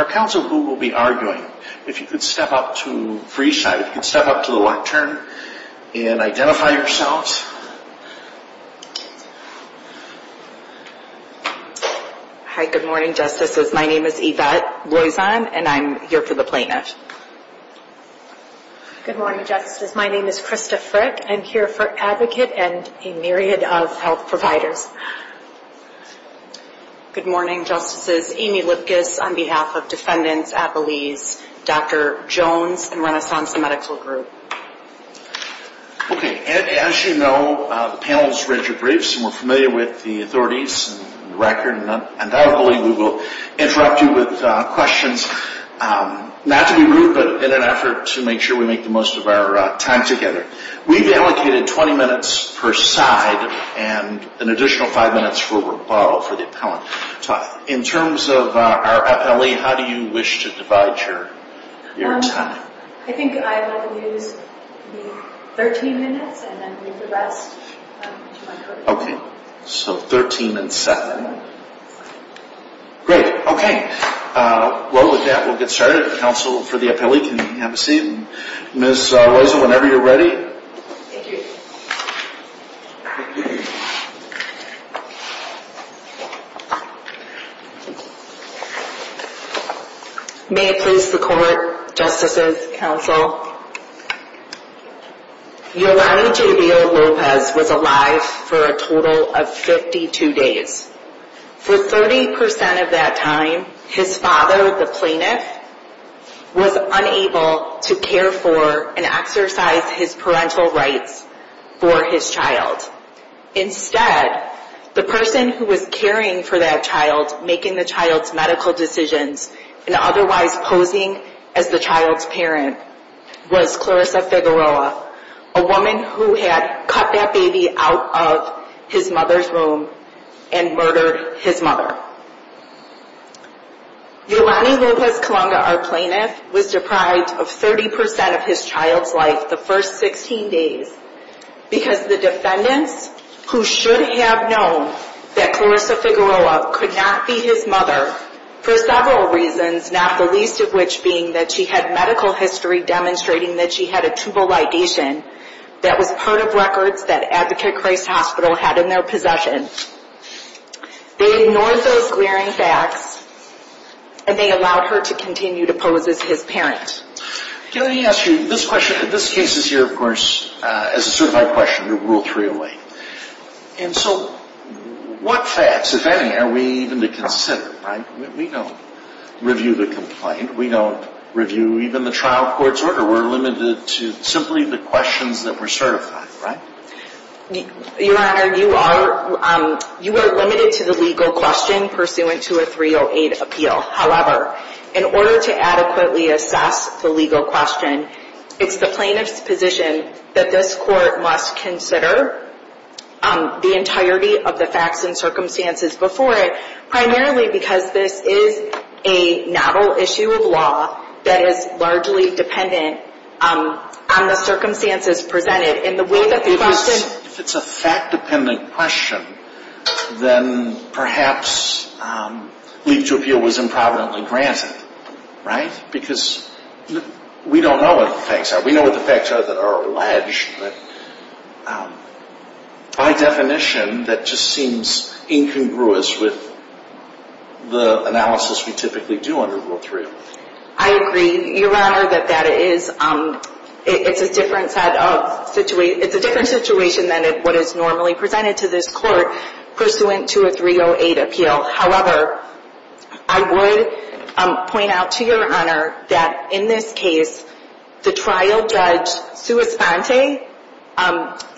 Our counsel will be arguing. If you could step up to the left turn and identify yourselves. Hi, good morning, Justices. My name is Yvette Loisan and I'm here for the plaintiff. Good morning, Justices. My name is Krista Frick. I'm here for Advocate and a myriad of health providers. Good morning, Justices. Amy Lipkis on behalf of Defendants, Appellees, Dr. Jones and Renaissance Medical Group. Okay, as you know, the panel has read your briefs and we're familiar with the authorities and the record. And I believe we will interrupt you with questions, not to be rude, but in an effort to make sure we make the most of our time together. We've allocated 20 minutes per side and an additional five minutes for rebuttal for the appellant. In terms of our appellee, how do you wish to divide your time? I think I want to use the 13 minutes and then leave the rest to my court. Okay, so 13 and 7. Great, okay. Well, with that we'll get started. Counsel for the appellee can have a seat. Ms. Loisan, whenever you're ready. Thank you. May it please the Court, Justices, Counsel. Your Honor, Gabriel Lopez was alive for a total of 52 days. For 30% of that time, his father, the plaintiff, was unable to care for and exercise his parental rights for his child. Instead, the person who was caring for that child, making the child's medical decisions, and otherwise posing as the child's parent, was Clarissa Figueroa, a woman who had cut that baby out of his mother's womb and murdered his mother. Yolani Lopez-Colonga, our plaintiff, was deprived of 30% of his child's life the first 16 days because the defendants, who should have known that Clarissa Figueroa could not be his mother for several reasons, not the least of which being that she had medical history demonstrating that she had a tubal ligation that was part of records that Advocate Christ Hospital had in their possession. They ignored those glaring facts, and they allowed her to continue to pose as his parent. Can I ask you, this case is here, of course, as a certified question, Rule 308. And so what facts, if any, are we even to consider, right? We don't review the complaint. We don't review even the trial court's order. We're limited to simply the questions that were certified, right? Your Honor, you are limited to the legal question pursuant to a 308 appeal. However, in order to adequately assess the legal question, it's the plaintiff's position that this court must consider the entirety of the facts and circumstances before it, primarily because this is a novel issue of law that is largely dependent on the circumstances presented If it's a fact-dependent question, then perhaps leave to appeal was improperly granted, right? Because we don't know what the facts are. We know what the facts are that are alleged, but by definition, that just seems incongruous with the analysis we typically do under Rule 308. I agree, Your Honor, that it's a different situation than what is normally presented to this court, pursuant to a 308 appeal. However, I would point out to Your Honor that in this case, the trial judge, Sua Sponte,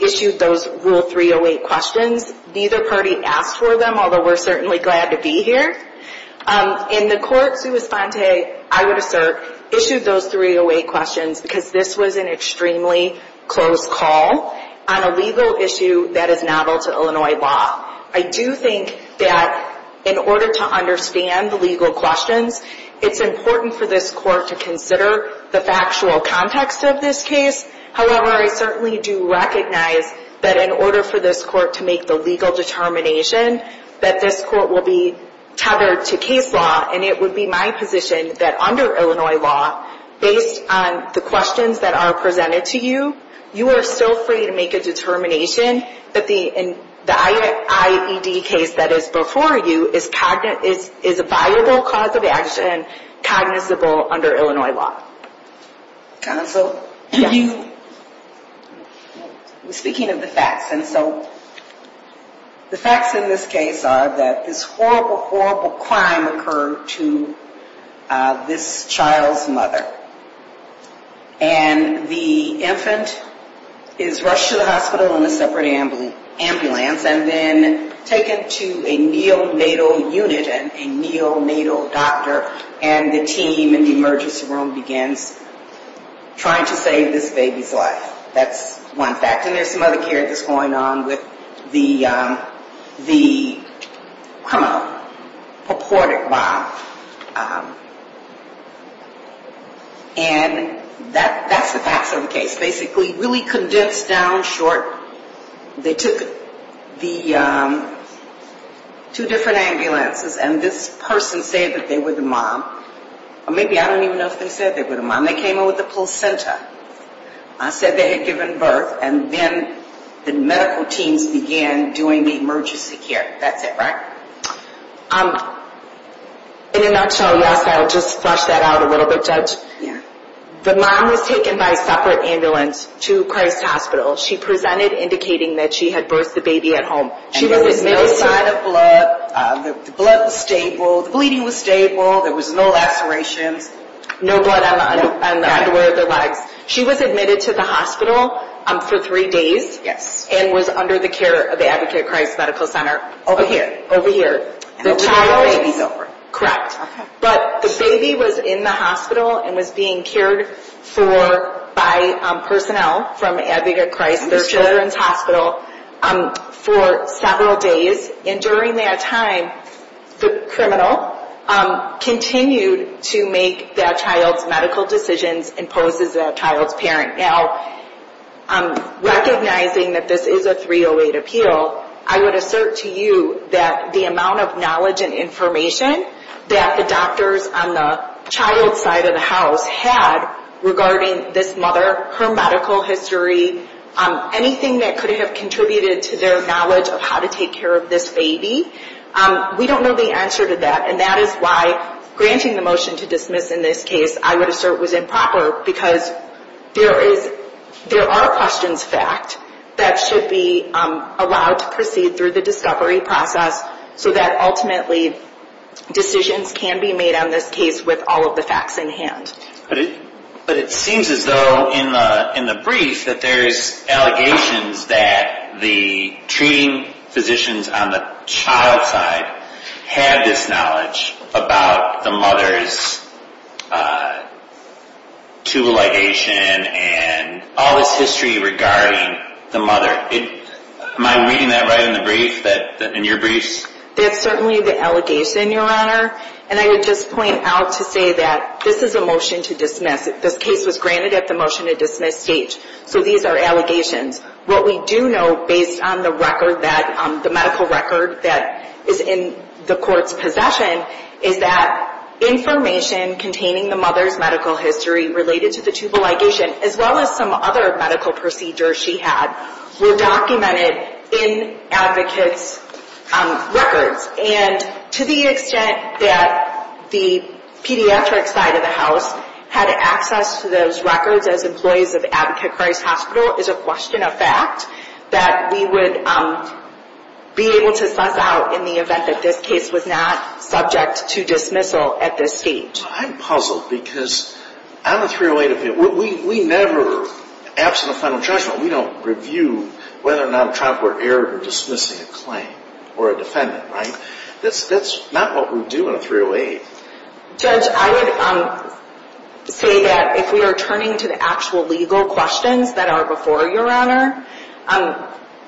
issued those Rule 308 questions. Neither party asked for them, although we're certainly glad to be here. In the court, Sua Sponte, I would assert, issued those 308 questions because this was an extremely close call on a legal issue that is novel to Illinois law. I do think that in order to understand the legal questions, it's important for this court to consider the factual context of this case. However, I certainly do recognize that in order for this court to make the legal determination that this court will be tethered to case law, and it would be my position that under Illinois law, based on the questions that are presented to you, you are still free to make a determination that the IAED case that is before you is a viable cause of action, cognizable under Illinois law. Counsel, speaking of the facts, and so the facts in this case are that this horrible, horrible crime occurred to this child's mother, and the infant is rushed to the hospital in a separate ambulance and then taken to a neonatal unit and a neonatal doctor, and the team in the emergency room begins trying to save this baby's life. That's one fact. And there's some other characters going on with the criminal purported bomb. And that's the facts of the case. Basically, really condensed down, short, they took the two different ambulances, and this person said that they were the mom, or maybe I don't even know if they said they were the mom. They came in with a placenta. I said they had given birth, and then the medical teams began doing the emergency care. That's it, right? In a nutshell, yes, I'll just flesh that out a little bit, Judge. The mom was taken by a separate ambulance to Christ Hospital. She presented indicating that she had birthed the baby at home. And there was no sign of blood. The blood was stable. The bleeding was stable. There was no lacerations. No blood on the underwear of the legs. She was admitted to the hospital for three days and was under the care of the Advocate Christ Medical Center. Over here. Over here. And the baby's over. Correct. But the baby was in the hospital and was being cared for by personnel from Advocate Christ, their children's hospital, for several days. And during that time, the criminal continued to make that child's medical decisions and pose as that child's parent. Now, recognizing that this is a 308 appeal, I would assert to you that the amount of knowledge and information that the doctors on the child's side of the house had regarding this mother, her medical history, anything that could have contributed to their knowledge of how to take care of this baby, we don't know the answer to that. And that is why granting the motion to dismiss in this case, I would assert, was improper, because there are questions of fact that should be allowed to proceed through the discovery process so that ultimately decisions can be made on this case with all of the facts in hand. But it seems as though in the brief that there's allegations that the treating physicians on the child's side had this knowledge about the mother's tubal ligation and all this history regarding the mother. Am I reading that right in the brief, in your briefs? That's certainly the allegation, Your Honor. And I would just point out to say that this is a motion to dismiss. This case was granted at the motion to dismiss stage, so these are allegations. What we do know, based on the medical record that is in the court's possession, is that information containing the mother's medical history related to the tubal ligation, as well as some other medical procedures she had, were documented in advocates' records. And to the extent that the pediatric side of the house had access to those records as employees of Advocate Christ Hospital is a question of fact that we would be able to suss out in the event that this case was not subject to dismissal at this stage. I'm puzzled because on the 308 appeal, we never, absent a final judgment, we don't review whether or not a trial court erred in dismissing a claim or a defendant, right? That's not what we do on a 308. Judge, I would say that if we are turning to the actual legal questions that are before you, Your Honor,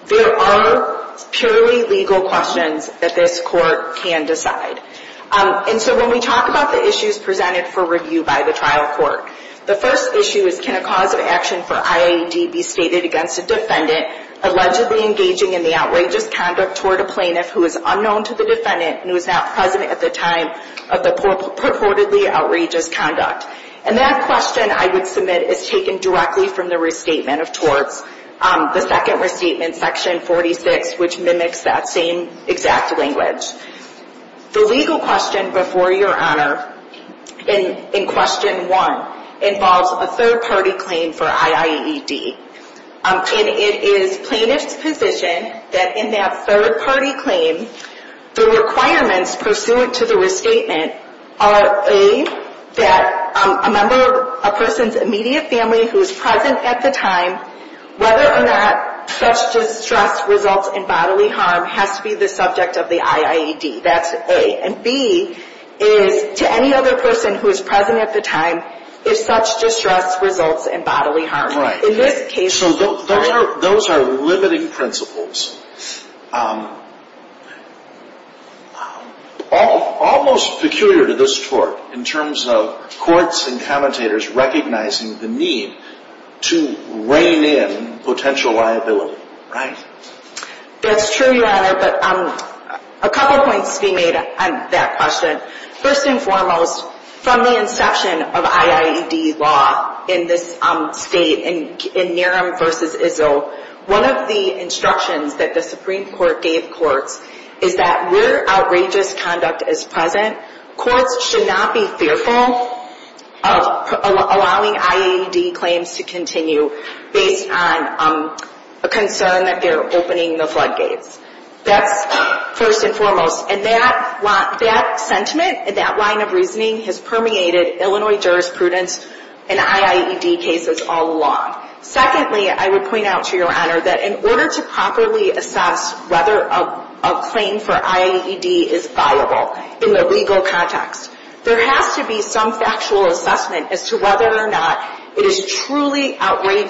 there are purely legal questions that this court can decide. And so when we talk about the issues presented for review by the trial court, the first issue is, can a cause of action for IAD be stated against a defendant allegedly engaging in the outrageous conduct toward a plaintiff who is unknown to the defendant and who is not present at the time of the purportedly outrageous conduct? And that question, I would submit, is taken directly from the restatement of torts, the second restatement, section 46, which mimics that same exact language. The legal question before you, Your Honor, in question one, involves a third-party claim for IAED. And it is plaintiff's position that in that third-party claim, the requirements pursuant to the restatement are, A, that a member of a person's immediate family who is present at the time, whether or not such distress results in bodily harm, has to be the subject of the IAED. That's A. And B is, to any other person who is present at the time, if such distress results in bodily harm. In this case... So those are limiting principles. Almost peculiar to this court in terms of courts and commentators recognizing the need to reign in potential liability. Right. That's true, Your Honor, but a couple points to be made on that question. First and foremost, from the inception of IAED law in this state, in Naram v. Izzo, one of the instructions that the Supreme Court gave courts is that where outrageous conduct is present, courts should not be fearful of allowing IAED claims to continue based on a concern that they're opening the floodgates. That's first and foremost. And that sentiment, that line of reasoning, has permeated Illinois jurisprudence and IAED cases all along. Secondly, I would point out to Your Honor that in order to properly assess whether a claim for IAED is viable in the legal context, there has to be some factual assessment as to whether or not it is truly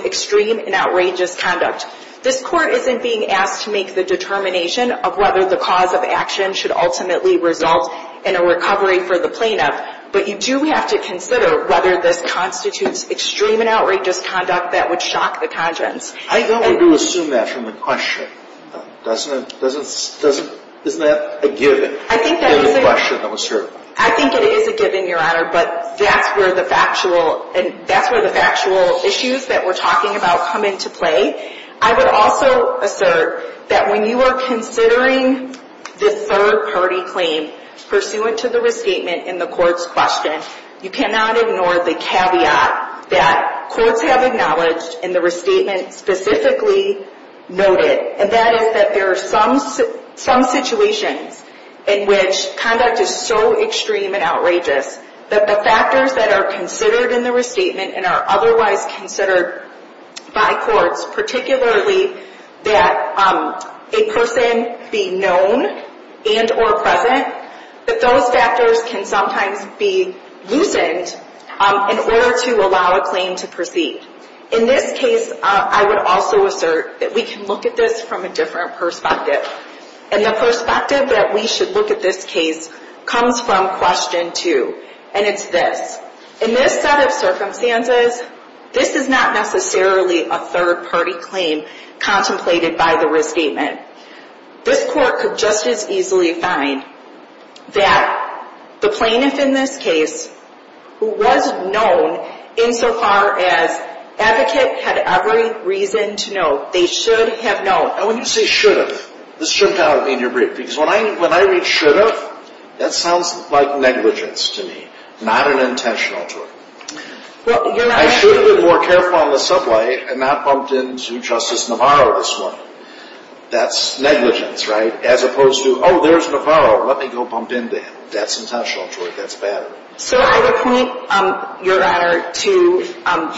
extreme and outrageous conduct. This court isn't being asked to make the determination of whether the cause of action should ultimately result in a recovery for the plaintiff, but you do have to consider whether this constitutes extreme and outrageous conduct that would shock the conscience. I don't want to assume that from the question. Isn't that a given? I think that is a given, Your Honor, but that's where the factual issues that we're talking about come into play. I would also assert that when you are considering the third-party claim pursuant to the restatement in the court's question, you cannot ignore the caveat that courts have acknowledged in the restatement specifically noted, and that is that there are some situations in which conduct is so extreme and outrageous that the factors that are considered in the restatement and are otherwise considered by courts, particularly that a person be known and or present, that those factors can sometimes be loosened in order to allow a claim to proceed. In this case, I would also assert that we can look at this from a different perspective, and the perspective that we should look at this case comes from question two, and it's this. In this set of circumstances, this is not necessarily a third-party claim contemplated by the restatement. This court could just as easily find that the plaintiff in this case, who was known insofar as advocate had every reason to know, they should have known. Now, when you say should have, this shouldn't bother me in your brief, because when I read should have, that sounds like negligence to me, not an intentional tool. I should have been more careful on the subway and not bumped into Justice Navarro this morning. That's negligence, right? As opposed to, oh, there's Navarro. Let me go bump into him. That's intentional, George. That's bad. So I would point, Your Honor, to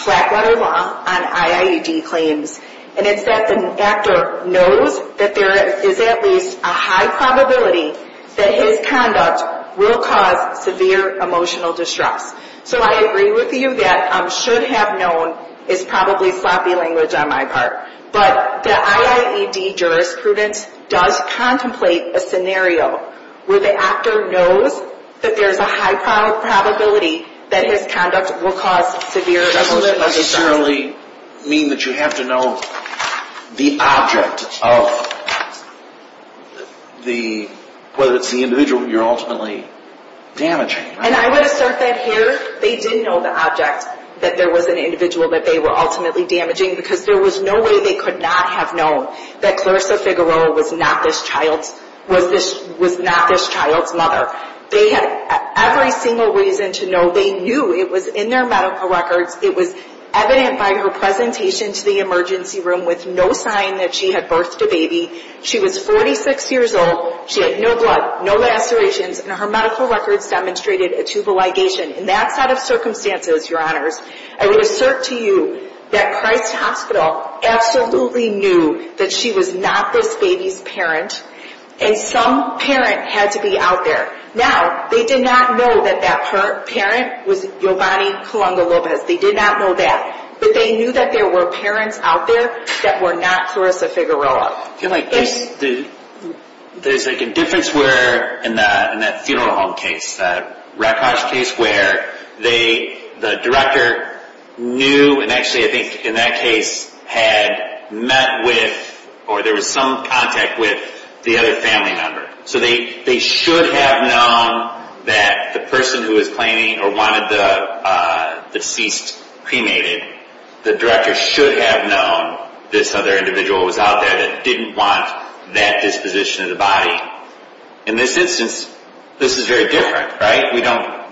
Flatwater Law on IIED claims, and it's that the actor knows that there is at least a high probability that his conduct will cause severe emotional distress. So I agree with you that should have known is probably sloppy language on my part, but the IIED jurisprudence does contemplate a scenario where the actor knows that there's a high probability that his conduct will cause severe emotional distress. It doesn't necessarily mean that you have to know the object of the, whether it's the individual you're ultimately damaging. And I would assert that here they didn't know the object that there was an individual that they were ultimately damaging because there was no way they could not have known that Clarissa Figueroa was not this child's mother. They had every single reason to know. They knew it was in their medical records. It was evident by her presentation to the emergency room with no sign that she had birthed a baby. She was 46 years old. She had no blood, no lacerations, and her medical records demonstrated a tubal ligation. And that's out of circumstances, Your Honors. I would assert to you that Christ Hospital absolutely knew that she was not this baby's parent, and some parent had to be out there. Now, they did not know that that parent was Giovanni Colunga Lopez. They did not know that. But they knew that there were parents out there that were not Clarissa Figueroa. I feel like there's a difference where in that funeral home case, that Red Cross case, where the director knew and actually I think in that case had met with or there was some contact with the other family member. So they should have known that the person who was claiming or wanted the deceased cremated, the director should have known this other individual was out there that didn't want that disposition of the body. In this instance, this is very different, right?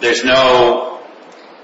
There's no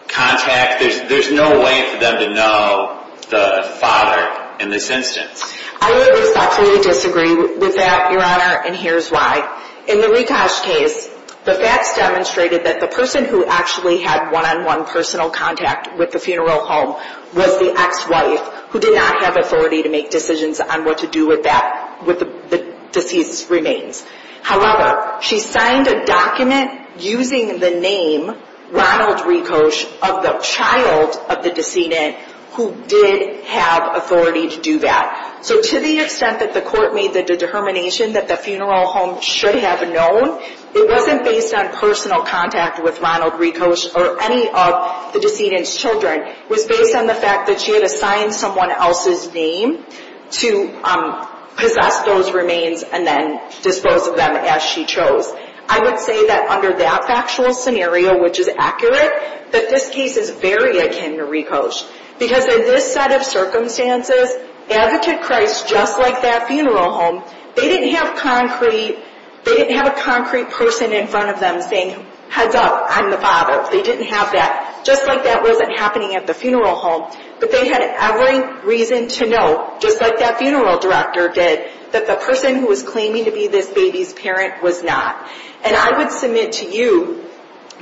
contact. There's no way for them to know the father in this instance. I would absolutely disagree with that, Your Honor, and here's why. In the Red Cross case, the facts demonstrated that the person who actually had one-on-one personal contact with the funeral home was the ex-wife who did not have authority to make decisions on what to do with that, with the deceased's remains. However, she signed a document using the name Ronald Ricoche of the child of the decedent who did have authority to do that. So to the extent that the court made the determination that the funeral home should have known, it wasn't based on personal contact with Ronald Ricoche or any of the decedent's children. It was based on the fact that she had assigned someone else's name to possess those remains and then dispose of them as she chose. I would say that under that factual scenario, which is accurate, that this case is very akin to Ricoche because in this set of circumstances, Advocate Christ, just like that funeral home, they didn't have a concrete person in front of them saying, heads up, I'm the father. They didn't have that. Just like that wasn't happening at the funeral home. But they had every reason to know, just like that funeral director did, that the person who was claiming to be this baby's parent was not. And I would submit to you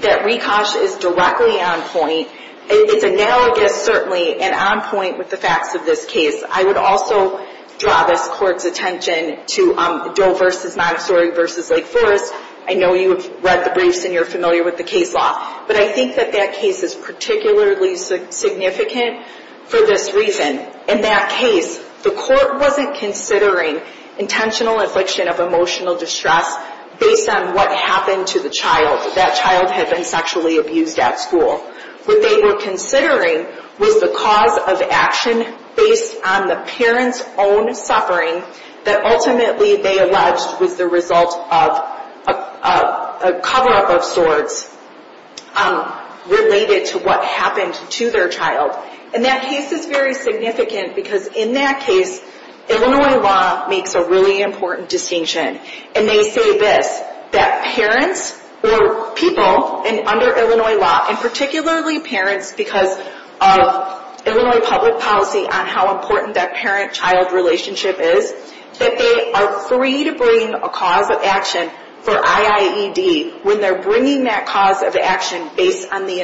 that Ricoche is directly on point. It's analogous, certainly, and on point with the facts of this case. I would also draw this Court's attention to Doe v. Montessori v. Lake Forest. I know you have read the briefs and you're familiar with the case law. But I think that that case is particularly significant for this reason. In that case, the Court wasn't considering intentional affliction of emotional distress based on what happened to the child. That child had been sexually abused at school. What they were considering was the cause of action based on the parent's own suffering that ultimately they alleged was the result of a cover-up of sorts related to what happened to their child. And that case is very significant because in that case, Illinois law makes a really important distinction. And they say this, that parents or people under Illinois law, and particularly parents because of Illinois public policy on how important that parent-child relationship is, that they are free to bring a cause of action for IIED when they're bringing that cause of action based on the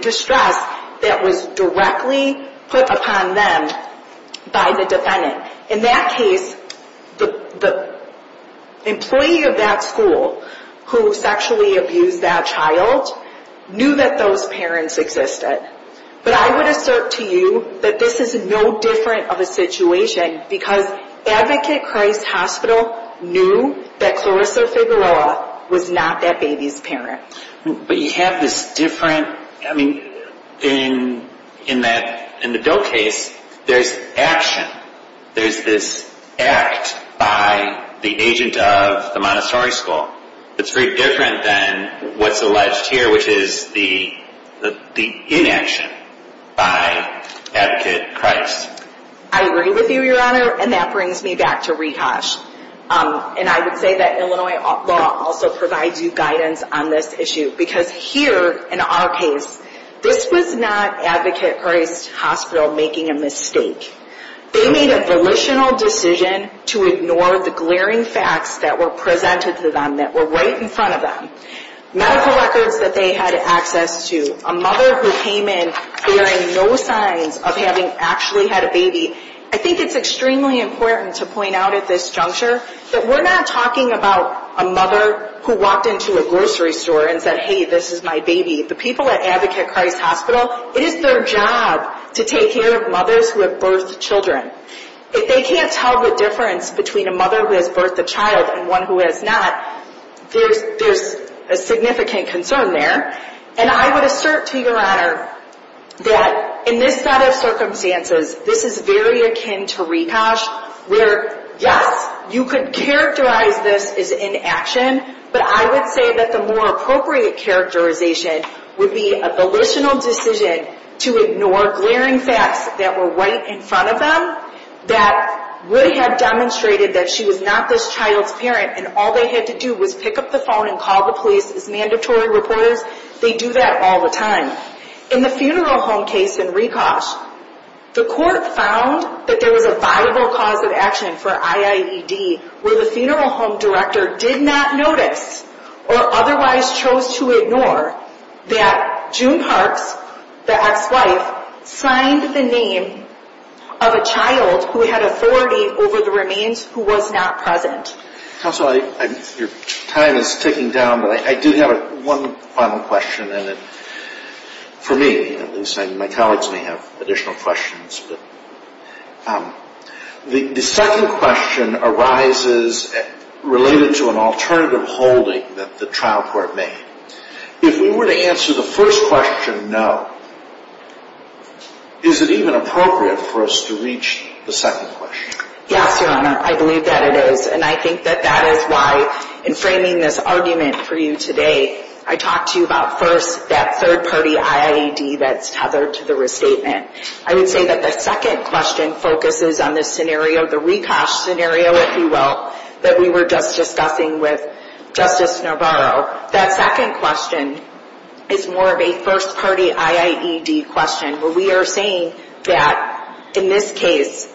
distress that was directly put upon them by the defendant. In that case, the employee of that school who sexually abused that child knew that those parents existed. But I would assert to you that this is no different of a situation because Advocate Christ Hospital knew that Clarissa Figueroa was not that baby's parent. But you have this different, I mean, in the bill case, there's action. There's this act by the agent of the Montessori school that's very different than what's alleged here, which is the inaction by Advocate Christ. I agree with you, Your Honor, and that brings me back to rehash. And I would say that Illinois law also provides you guidance on this issue because here, in our case, this was not Advocate Christ Hospital making a mistake. They made a volitional decision to ignore the glaring facts that were presented to them, that were right in front of them, medical records that they had access to, a mother who came in bearing no signs of having actually had a baby. I think it's extremely important to point out at this juncture that we're not talking about a mother who walked into a grocery store and said, hey, this is my baby. The people at Advocate Christ Hospital, it is their job to take care of mothers who have birthed children. If they can't tell the difference between a mother who has birthed a child and one who has not, there's a significant concern there. And I would assert to Your Honor that in this set of circumstances, this is very akin to rehash, where, yes, you could characterize this as inaction, but I would say that the more appropriate characterization would be a volitional decision to ignore glaring facts that were right in front of them, that would have demonstrated that she was not this child's parent and all they had to do was pick up the phone and call the police as mandatory reporters. They do that all the time. In the funeral home case in Rekosh, the court found that there was a viable cause of action for IAED, where the funeral home director did not notice or otherwise chose to ignore that June Parks, the ex-wife, signed the name of a child who had authority over the remains who was not present. Counsel, your time is ticking down, but I do have one final question, and for me, at least, my colleagues may have additional questions. The second question arises related to an alternative holding that the trial court made. If we were to answer the first question, no, is it even appropriate for us to reach the second question? Yes, Your Honor, I believe that it is, and I think that that is why in framing this argument for you today, I talked to you about first that third-party IAED that's tethered to the restatement. I would say that the second question focuses on this scenario, the Rekosh scenario, if you will, that we were just discussing with Justice Navarro. That second question is more of a first-party IAED question, where we are saying that in this case,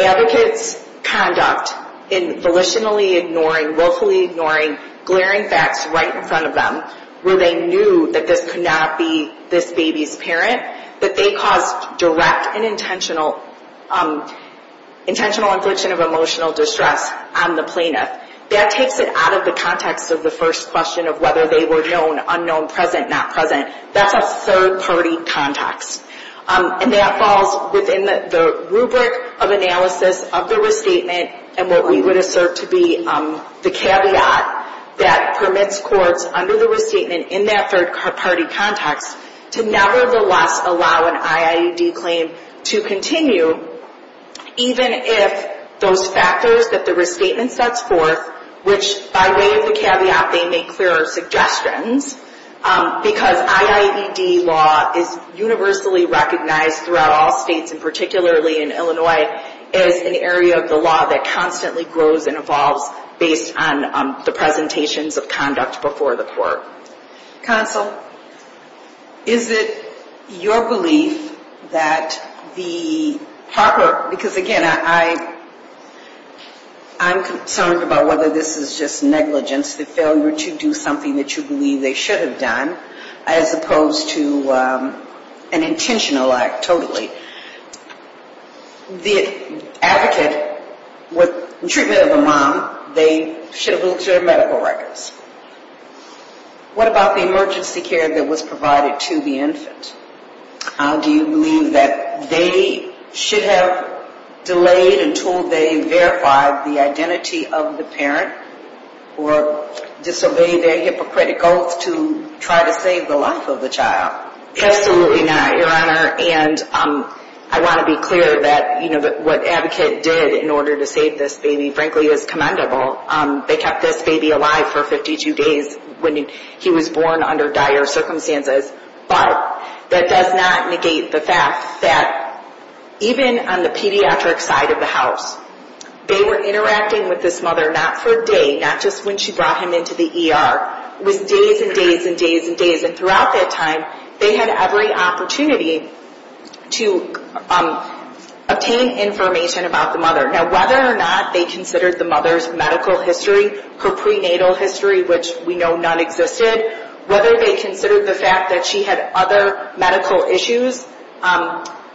advocates' conduct in volitionally ignoring, willfully ignoring glaring facts right in front of them, where they knew that this could not be this baby's parent, that they caused direct and intentional infliction of emotional distress on the plaintiff. That takes it out of the context of the first question of whether they were known, unknown, present, not present. That's a third-party context, and that falls within the rubric of analysis of the restatement and what we would assert to be the caveat that permits courts under the restatement in that third-party context to nevertheless allow an IAED claim to continue, even if those factors that the restatement sets forth, which by way of the caveat, they make clearer suggestions, because IAED law is universally recognized throughout all states, and particularly in Illinois, is an area of the law that constantly grows and evolves based on the presentations of conduct before the court. Counsel, is it your belief that the proper, because again, I'm concerned about whether this is just negligence, the failure to do something that you believe they should have done, as opposed to an intentional act, totally. The advocate, with the treatment of a mom, they should have looked at her medical records. What about the emergency care that was provided to the infant? Do you believe that they should have delayed until they verified the identity of the parent or disobeyed their hypocritical oath to try to save the life of the child? Absolutely not, Your Honor. And I want to be clear that what Advocate did in order to save this baby, frankly, is commendable. They kept this baby alive for 52 days when he was born under dire circumstances. But that does not negate the fact that even on the pediatric side of the house, they were interacting with this mother not for a day, not just when she brought him into the ER. It was days and days and days and days. And throughout that time, they had every opportunity to obtain information about the mother. Now, whether or not they considered the mother's medical history, her prenatal history, which we know none existed, whether they considered the fact that she had other medical issues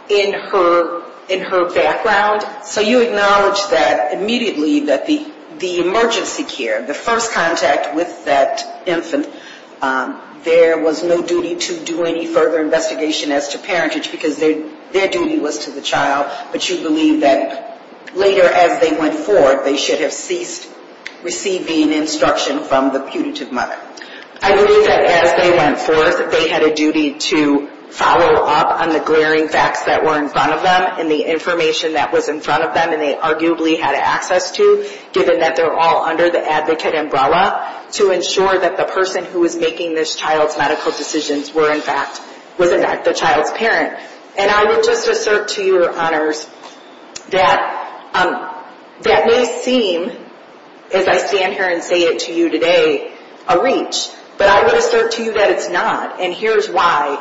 in her background. So you acknowledge that immediately that the emergency care, the first contact with that infant, there was no duty to do any further investigation as to parentage because their duty was to the child. But you believe that later as they went forth, they should have ceased receiving instruction from the putative mother. I believe that as they went forth, they had a duty to follow up on the glaring facts that were in front of them and the information that was in front of them and they arguably had access to, given that they were all under the advocate umbrella to ensure that the person who was making this child's medical decisions were in fact the child's parent. And I would just assert to your honors that that may seem, as I stand here and say it to you today, a reach. But I would assert to you that it's not. And here's why.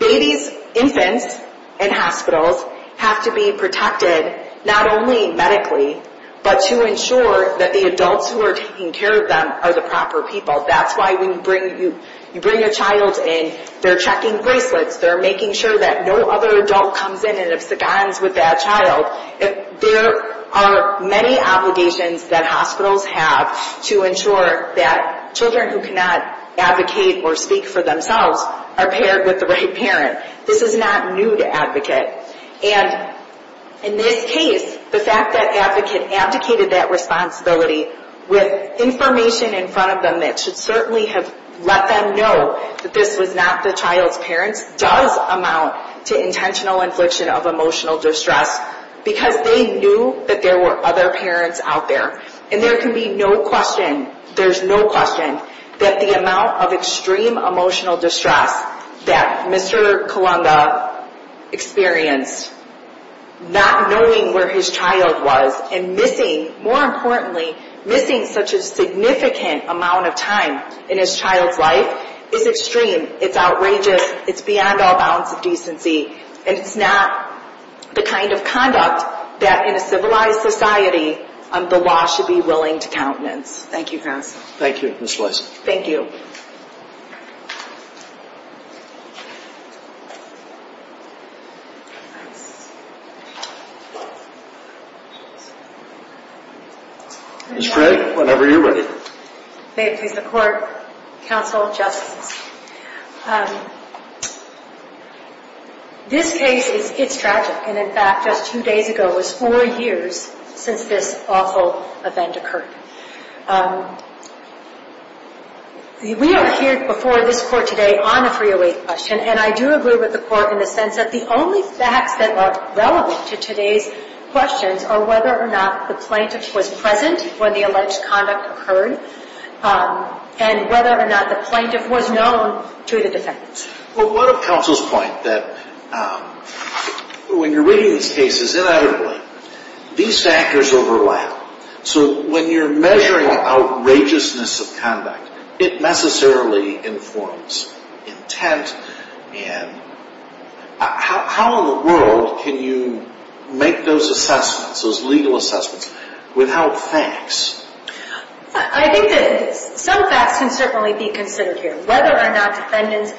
Babies, infants, and hospitals have to be protected, not only medically, but to ensure that the adults who are taking care of them are the proper people. That's why when you bring a child in, they're checking bracelets, they're making sure that no other adult comes in and it's the guns with that child. There are many obligations that hospitals have to ensure that children who cannot advocate or speak for themselves are paired with the right parent. This is not new to advocate. And in this case, the fact that advocate abdicated that responsibility with information in front of them that should certainly have let them know that this was not the child's parents does amount to intentional infliction of emotional distress because they knew that there were other parents out there. And there can be no question, there's no question, that the amount of extreme emotional distress that Mr. Kalunga experienced, not knowing where his child was, and missing, more importantly, missing such a significant amount of time in his child's life, is extreme. It's outrageous. It's beyond all bounds of decency. And it's not the kind of conduct that, in a civilized society, the law should be willing to countenance. Thank you, counsel. Thank you, Ms. Lison. Thank you. Ms. Craig, whenever you're ready. May it please the Court, counsel, justices. This case, it's tragic. And, in fact, just two days ago was four years since this awful event occurred. We are here before this Court today on a 308 question, and I do agree with the Court in the sense that the only facts that are relevant to today's questions are whether or not the plaintiff was present when the alleged conduct occurred and whether or not the plaintiff was known to the defendants. Well, what of counsel's point that when you're reading these cases ineditably, these factors overlap. So when you're measuring outrageousness of conduct, it necessarily informs intent. And how in the world can you make those assessments, those legal assessments, without facts? I think that some facts can certainly be considered here. Whether or not defendant's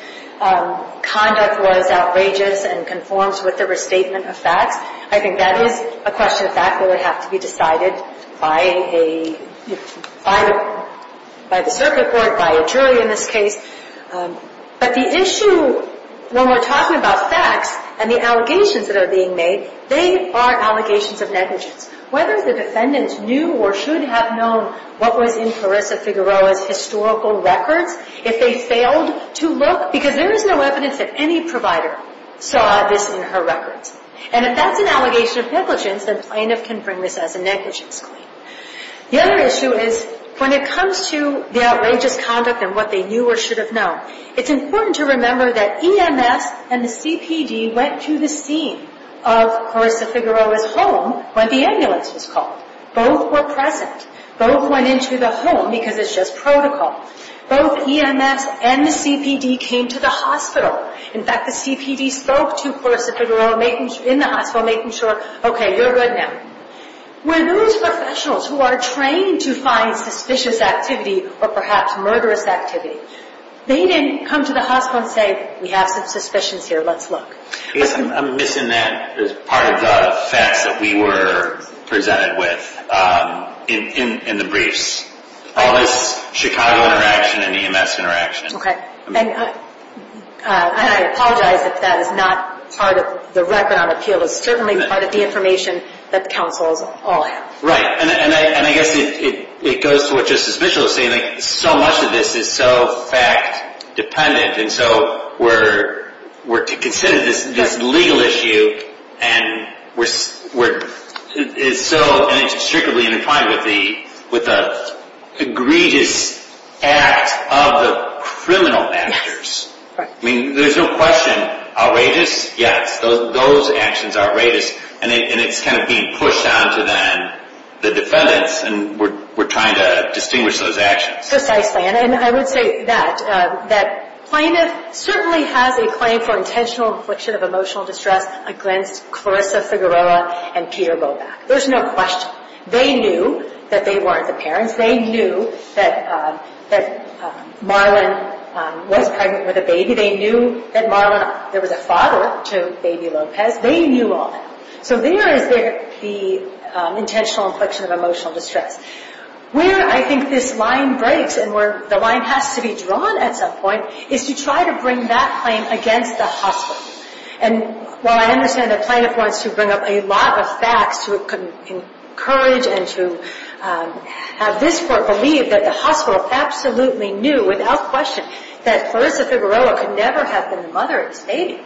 conduct was outrageous and conforms with the restatement of facts, I think that is a question of fact that would have to be decided by the circuit court, by a jury in this case. But the issue when we're talking about facts and the allegations that are being made, they are allegations of negligence. Whether the defendants knew or should have known what was in Clarissa Figueroa's historical records, if they failed to look, because there is no evidence that any provider saw this in her records. And if that's an allegation of negligence, then plaintiff can bring this as a negligence claim. The other issue is when it comes to the outrageous conduct and what they knew or should have known, it's important to remember that EMS and the CPD went to the scene of Clarissa Figueroa's home when the ambulance was called. Both were present. Both went into the home because it's just protocol. Both EMS and the CPD came to the hospital. In fact, the CPD spoke to Clarissa Figueroa in the hospital making sure, okay, you're good now. When those professionals who are trained to find suspicious activity or perhaps murderous activity, they didn't come to the hospital and say, we have some suspicions here, let's look. I guess I'm missing that as part of the facts that we were presented with in the briefs. All this Chicago interaction and EMS interaction. Okay. And I apologize if that is not part of the record on appeal. It's certainly part of the information that the counsels all have. Right. And I guess it goes to what Justice Mitchell is saying. So much of this is so fact-dependent, and so we're considered this legal issue and it's so intricately intertwined with the egregious act of the criminal actors. Yes. I mean, there's no question. Outrageous? Yes. Those actions are outrageous. And it's kind of being pushed down to the defendants, and we're trying to distinguish those actions. Precisely. And I would say that Plaintiff certainly has a claim for intentional infliction of emotional distress against Clarissa Figueroa and Peter Bobak. There's no question. They knew that they weren't the parents. They knew that Marlon was pregnant with a baby. They knew that Marlon was a father to baby Lopez. They knew all that. So there is the intentional infliction of emotional distress. Where I think this line breaks and where the line has to be drawn at some point is to try to bring that claim against the hospital. And while I understand that Plaintiff wants to bring up a lot of facts to encourage and to have this court believe that the hospital absolutely knew without question that Clarissa Figueroa could never have been the mother of this baby,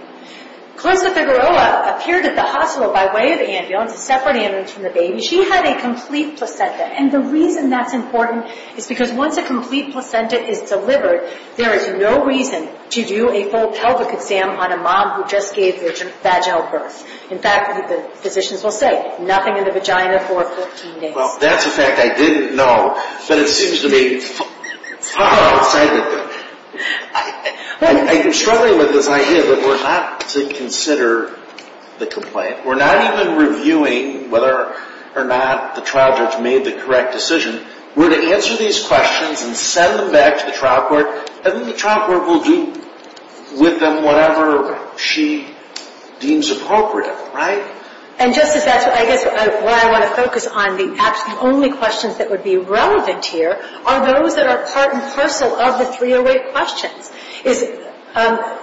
Clarissa Figueroa appeared at the hospital by way of ambulance, a separate ambulance from the baby. She had a complete placenta. And the reason that's important is because once a complete placenta is delivered, there is no reason to do a full pelvic exam on a mom who just gave their vaginal birth. In fact, the physicians will say, nothing in the vagina for 14 days. Well, that's a fact I didn't know, but it seems to be far outside of it. I'm struggling with this idea that we're not to consider the complaint. We're not even reviewing whether or not the trial judge made the correct decision. We're to answer these questions and send them back to the trial court, and then the trial court will do with them whatever she deems appropriate. Right? And, Justice, that's why I want to focus on the only questions that would be relevant here are those that are part and parcel of the 308 questions.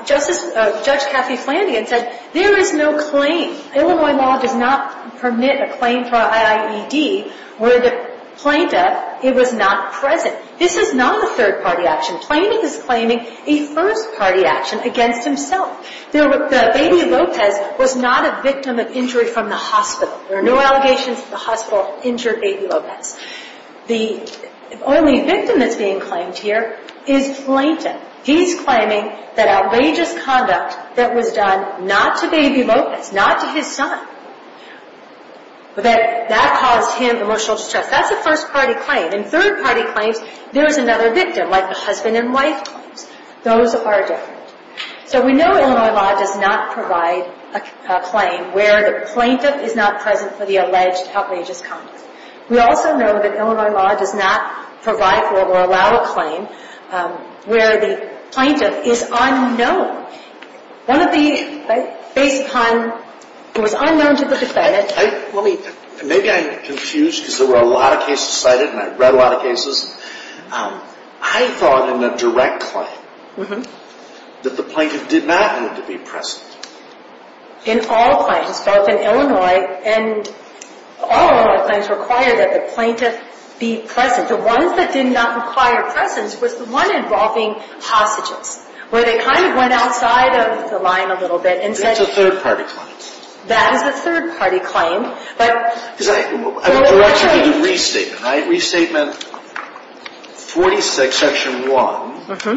Judge Kathy Flanagan said, there is no claim. Illinois law does not permit a claim for IIED where the plaintiff was not present. This is not a third-party action. Flanagan is claiming a first-party action against himself. The baby Lopez was not a victim of injury from the hospital. There are no allegations that the hospital injured baby Lopez. The only victim that's being claimed here is Plaintiff. He's claiming that outrageous conduct that was done not to baby Lopez, not to his son, that caused him emotional distress. That's a first-party claim. In third-party claims, there is another victim, like the husband and wife claims. Those are different. So we know Illinois law does not provide a claim where the plaintiff is not present for the alleged outrageous conduct. We also know that Illinois law does not provide for or allow a claim where the plaintiff is unknown. One of the, based upon, it was unknown to the defendant. Let me, maybe I'm confused because there were a lot of cases cited and I've read a lot of cases. I thought in the direct claim that the plaintiff did not need to be present. In all claims, both in Illinois and all Illinois claims require that the plaintiff be present. The ones that did not require presence was the one involving hostages, where they kind of went outside of the line a little bit. That's a third-party claim. That is a third-party claim. I would direct you to the restatement, right? Restatement 46, section 1. It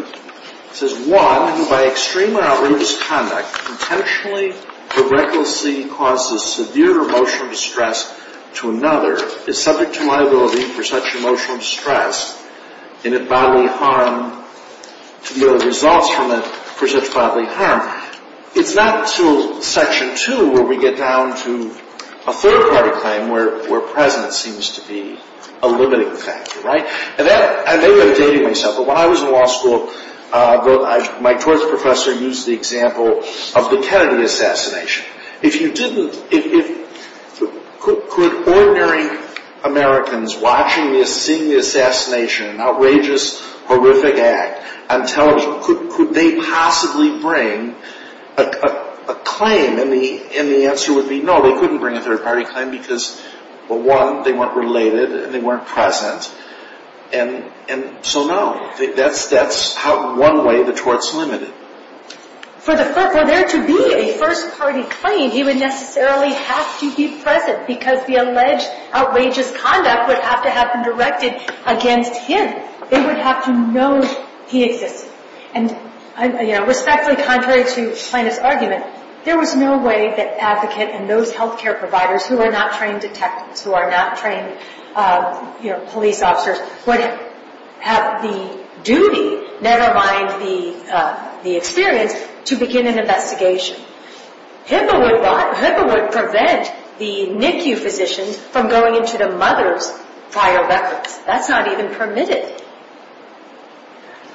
says, One, by extremely outrageous conduct, intentionally or recklessly causes severe emotional distress to another, is subject to liability for such emotional distress and bodily harm to the results from it for such bodily harm. It's not until section 2 where we get down to a third-party claim where presence seems to be a limiting factor, right? And that, I may be updating myself, but when I was in law school, my torts professor used the example of the Kennedy assassination. If you didn't, if, could ordinary Americans watching this, seeing the assassination, an outrageous, horrific act, could they possibly bring a claim? And the answer would be, no, they couldn't bring a third-party claim, because, well, one, they weren't related and they weren't present. And so, no. That's one way the tort's limited. For there to be a first-party claim, he would necessarily have to be present because the alleged outrageous conduct would have to have been directed against him. They would have to know he existed. And respectfully, contrary to plaintiff's argument, there was no way that advocate and those health care providers who are not trained detectives, who are not trained police officers, would have the duty, never mind the experience, to begin an investigation. HIPAA would prevent the NICU physicians from going into the mother's file records. That's not even permitted.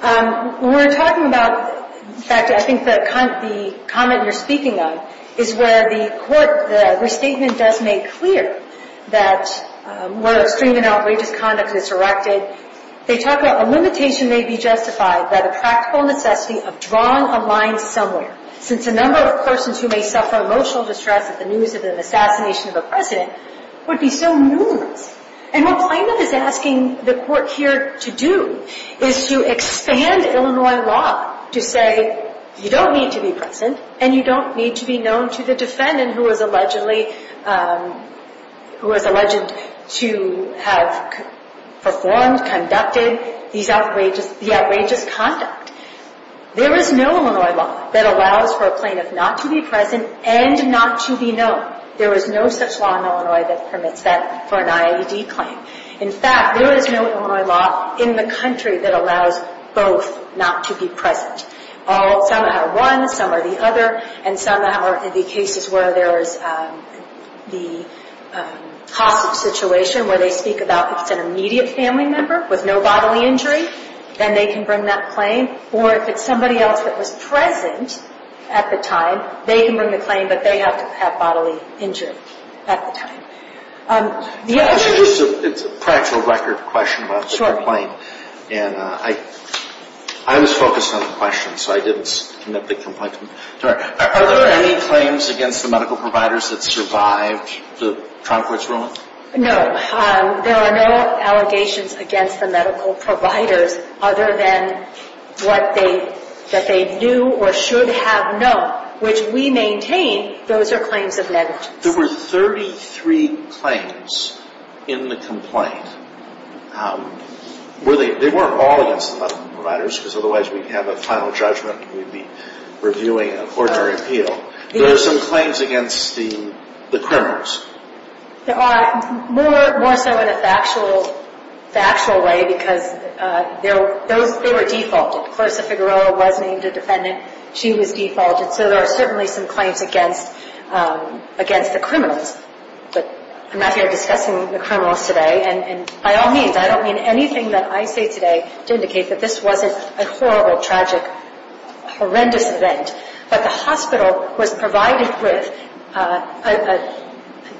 When we're talking about, in fact, I think the comment you're speaking of is where the court, the restatement does make clear that where extreme and outrageous conduct is directed, they talk about a limitation may be justified by the practical necessity of drawing a line somewhere. Since a number of persons who may suffer emotional distress at the news of the assassination of a president would be so numerous. And what plaintiff is asking the court here to do is to expand Illinois law to say, you don't need to be present and you don't need to be known to the defendant who is alleged to have performed, conducted the outrageous conduct. There is no Illinois law that allows for a plaintiff not to be present and not to be known. There is no such law in Illinois that permits that for an IAED claim. In fact, there is no Illinois law in the country that allows both not to be present. Some are one, some are the other, and some are the cases where there is the hostage situation where they speak about an immediate family member with no bodily injury, and they can bring that claim. Or if it's somebody else that was present at the time, they can bring the claim, but they have to have bodily injury at the time. It's a practical record question about the claim. And I was focused on the question, so I didn't commit the complaint. Are there any claims against the medical providers that survived the trial court's ruling? No. There are no allegations against the medical providers other than what they knew or should have known, which we maintain those are claims of negligence. There were 33 claims in the complaint. They weren't all against the medical providers because otherwise we'd have a final judgment and we'd be reviewing an ordinary appeal. There were some claims against the criminals. There are, more so in a factual way because they were defaulted. Clarissa Figueroa was named a defendant. She was defaulted. So there are certainly some claims against the criminals. But I'm not here discussing the criminals today, and by all means, I don't mean anything that I say today to indicate that this wasn't a horrible, tragic, horrendous event. But the hospital was provided with a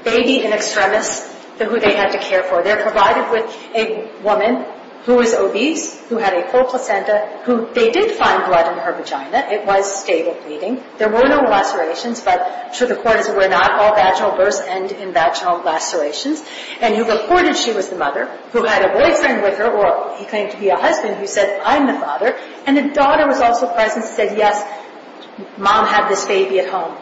baby in extremis who they had to care for. They were provided with a woman who was obese, who had a full placenta, who they did find blood in her vagina. It was stable bleeding. There were no lacerations, but to the court, as it were, not all vaginal births end in vaginal lacerations. And you reported she was the mother who had a boyfriend with her, or he claimed to be a husband, who said, I'm the father. And the daughter was also present and said, yes, mom had this baby at home.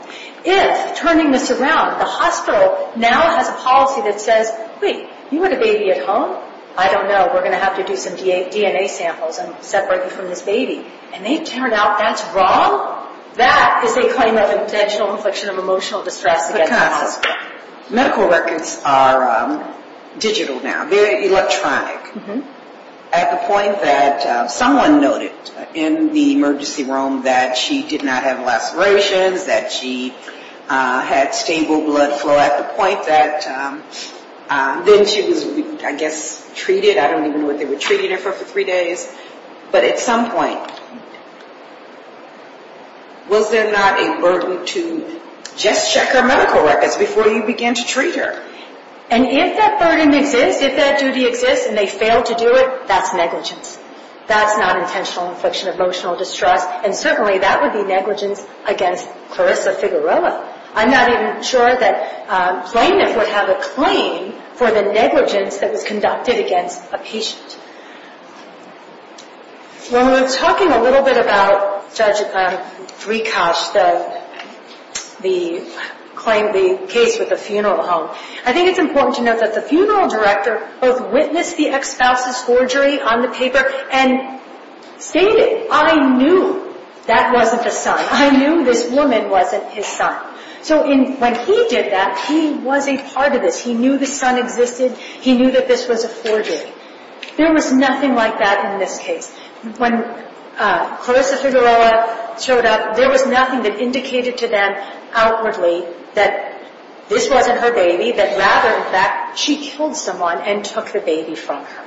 If, turning this around, the hospital now has a policy that says, wait, you had a baby at home? I don't know. We're going to have to do some DNA samples and separate you from this baby. And they turn out that's wrong? That is a claim of intentional infliction of emotional distress against the hospital. Because medical records are digital now, very electronic. At the point that someone noted in the emergency room that she did not have lacerations, that she had stable blood flow, at the point that then she was, I guess, treated. I don't even know what they were treating her for for three days. But at some point, was there not a burden to just check her medical records before you began to treat her? And if that burden exists, if that duty exists, and they fail to do it, that's negligence. That's not intentional infliction of emotional distress. And certainly that would be negligence against Clarissa Figueroa. I'm not even sure that plaintiff would have a claim for the negligence that was conducted against a patient. When we're talking a little bit about Judge Drikas, the claim, the case with the funeral home, I think it's important to note that the funeral director both witnessed the ex-spouse's forgery on the paper and stated, I knew that wasn't the son. I knew this woman wasn't his son. So when he did that, he was a part of this. He knew the son existed. He knew that this was a forgery. There was nothing like that in this case. When Clarissa Figueroa showed up, there was nothing that indicated to them outwardly that this wasn't her baby, but rather that she killed someone and took the baby from her.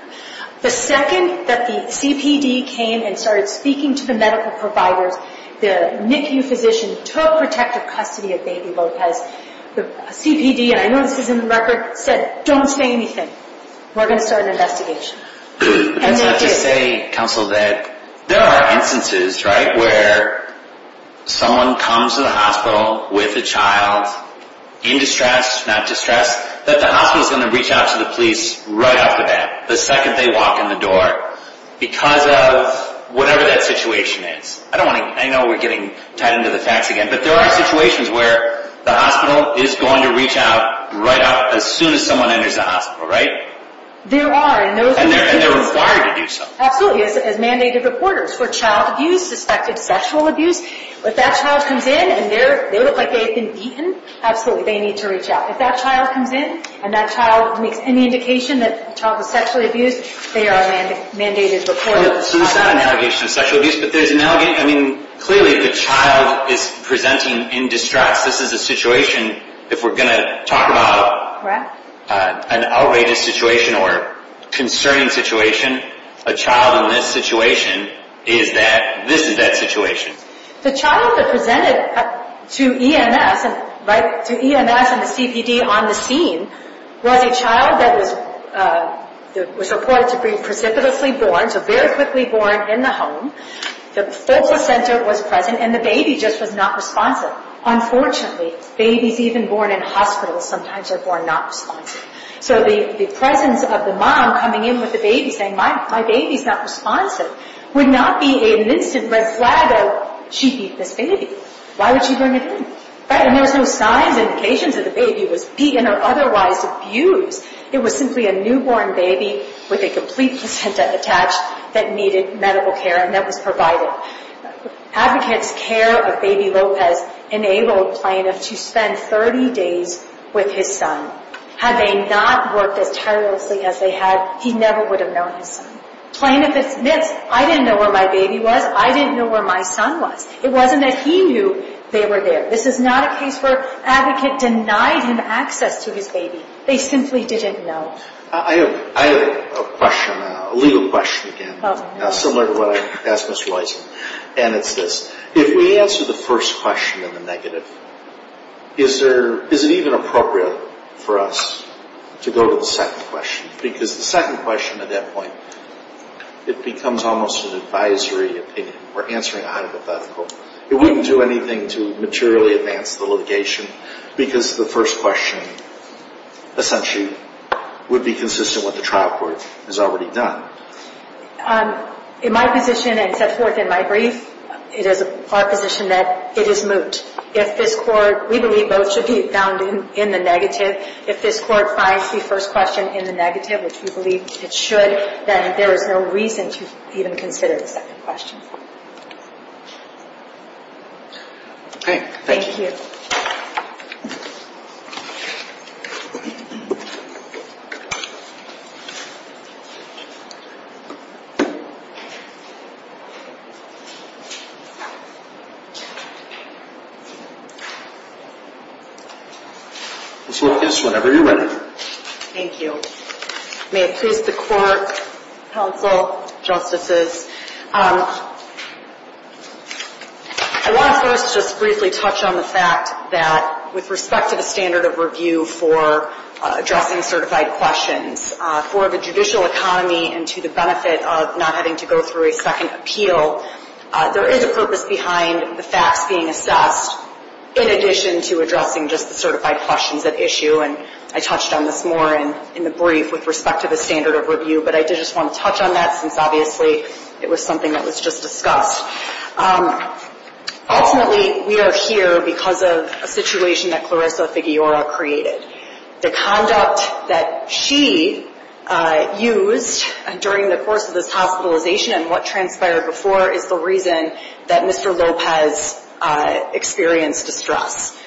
The second that the CPD came and started speaking to the medical providers, the NICU physician took protective custody of baby Lopez. The CPD, and I know this is in the record, said, don't say anything. We're going to start an investigation. And they did. Let's not just say, Counsel, that there are instances, right, where someone comes to the hospital with a child in distress, not distress, that the hospital is going to reach out to the police right after that, the second they walk in the door, because of whatever that situation is. I know we're getting tied into the facts again, but there are situations where the hospital is going to reach out right as soon as someone enters the hospital, right? There are. And they're required to do so. Absolutely, as mandated reporters. For child abuse, suspected sexual abuse, if that child comes in and they look like they've been beaten, absolutely, they need to reach out. If that child comes in and that child makes any indication that the child was sexually abused, they are mandated reporters. So there's not an allegation of sexual abuse, but there's an allegation, I mean, clearly if the child is presenting in distress, this is a situation, if we're going to talk about an outrageous situation or concerning situation, a child in this situation is that, this is that situation. The child that presented to EMS, right, to EMS and the CPD on the scene, was a child that was reported to be precipitously born, so very quickly born, in the home. The full placenta was present, and the baby just was not responsive. Now, unfortunately, babies even born in hospitals sometimes are born not responsive. So the presence of the mom coming in with the baby saying, my baby's not responsive, would not be an instant red flag of, she beat this baby. Why would she bring it in? And there's no signs, indications that the baby was beaten or otherwise abused. It was simply a newborn baby with a complete placenta attached that needed medical care and that was provided. Advocates' care of baby Lopez enabled Plaintiff to spend 30 days with his son. Had they not worked as tirelessly as they had, he never would have known his son. Plaintiff admits, I didn't know where my baby was, I didn't know where my son was. It wasn't that he knew they were there. This is not a case where an advocate denied him access to his baby. They simply didn't know. I have a question, a legal question again, similar to what I asked Mr. Weisen. And it's this. If we answer the first question in the negative, is it even appropriate for us to go to the second question? Because the second question at that point, it becomes almost an advisory opinion. We're answering a hypothetical. It wouldn't do anything to materially advance the litigation, because the first question essentially would be consistent with what the trial court has already done. In my position and set forth in my brief, it is our position that it is moot. If this court, we believe both should be found in the negative. If this court finds the first question in the negative, which we believe it should, then there is no reason to even consider the second question. All right. Thank you. Ms. Lucas, whenever you're ready. Thank you. May it please the court, counsel, justices. I want to first just briefly touch on the fact that with respect to the standard of review for addressing certified questions, for the judicial economy and to the benefit of not having to go through a second appeal, there is a purpose behind the facts being assessed in addition to addressing just the certified questions at issue. And I touched on this more in the brief with respect to the standard of review. But I did just want to touch on that since obviously it was something that was just discussed. Ultimately, we are here because of a situation that Clarissa Figueroa created. The conduct that she used during the course of this hospitalization and what transpired before is the reason that Mr. Lopez experienced distress.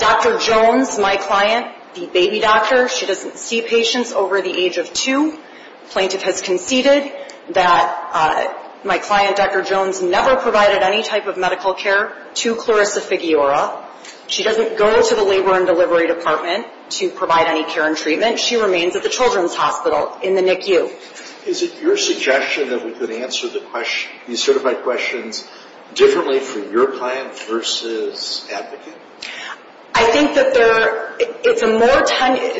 Dr. Jones, my client, the baby doctor, she doesn't see patients over the age of two. Plaintiff has conceded that my client, Dr. Jones, never provided any type of medical care to Clarissa Figueroa. She doesn't go to the labor and delivery department to provide any care and treatment. She remains at the children's hospital in the NICU. Is it your suggestion that we could answer the certified questions differently for your client versus advocate? I think that it's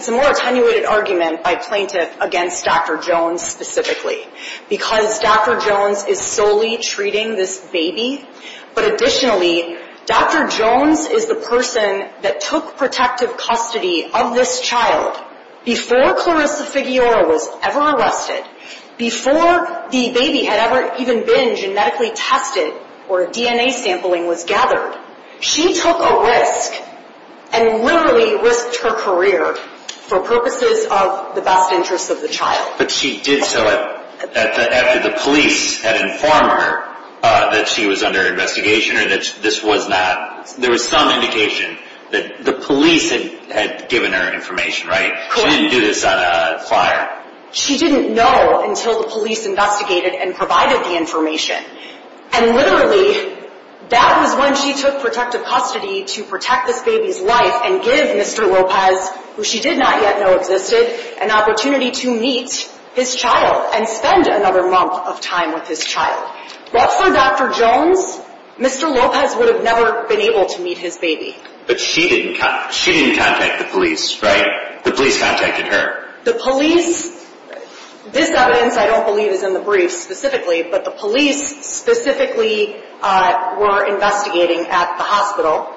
a more attenuated argument by plaintiff against Dr. Jones specifically because Dr. Jones is solely treating this baby. But additionally, Dr. Jones is the person that took protective custody of this child before Clarissa Figueroa was ever arrested, before the baby had ever even been genetically tested or DNA sampling was gathered. She took a risk and literally risked her career for purposes of the best interest of the child. But she did so after the police had informed her that she was under investigation or that this was not, there was some indication that the police had given her information, right? She didn't do this on a flyer. She didn't know until the police investigated and provided the information. And literally, that was when she took protective custody to protect this baby's life and give Mr. Lopez, who she did not yet know existed, an opportunity to meet his child and spend another month of time with his child. But for Dr. Jones, Mr. Lopez would have never been able to meet his baby. But she didn't contact the police, right? The police contacted her. The police, this evidence I don't believe is in the brief specifically, but the police specifically were investigating at the hospital.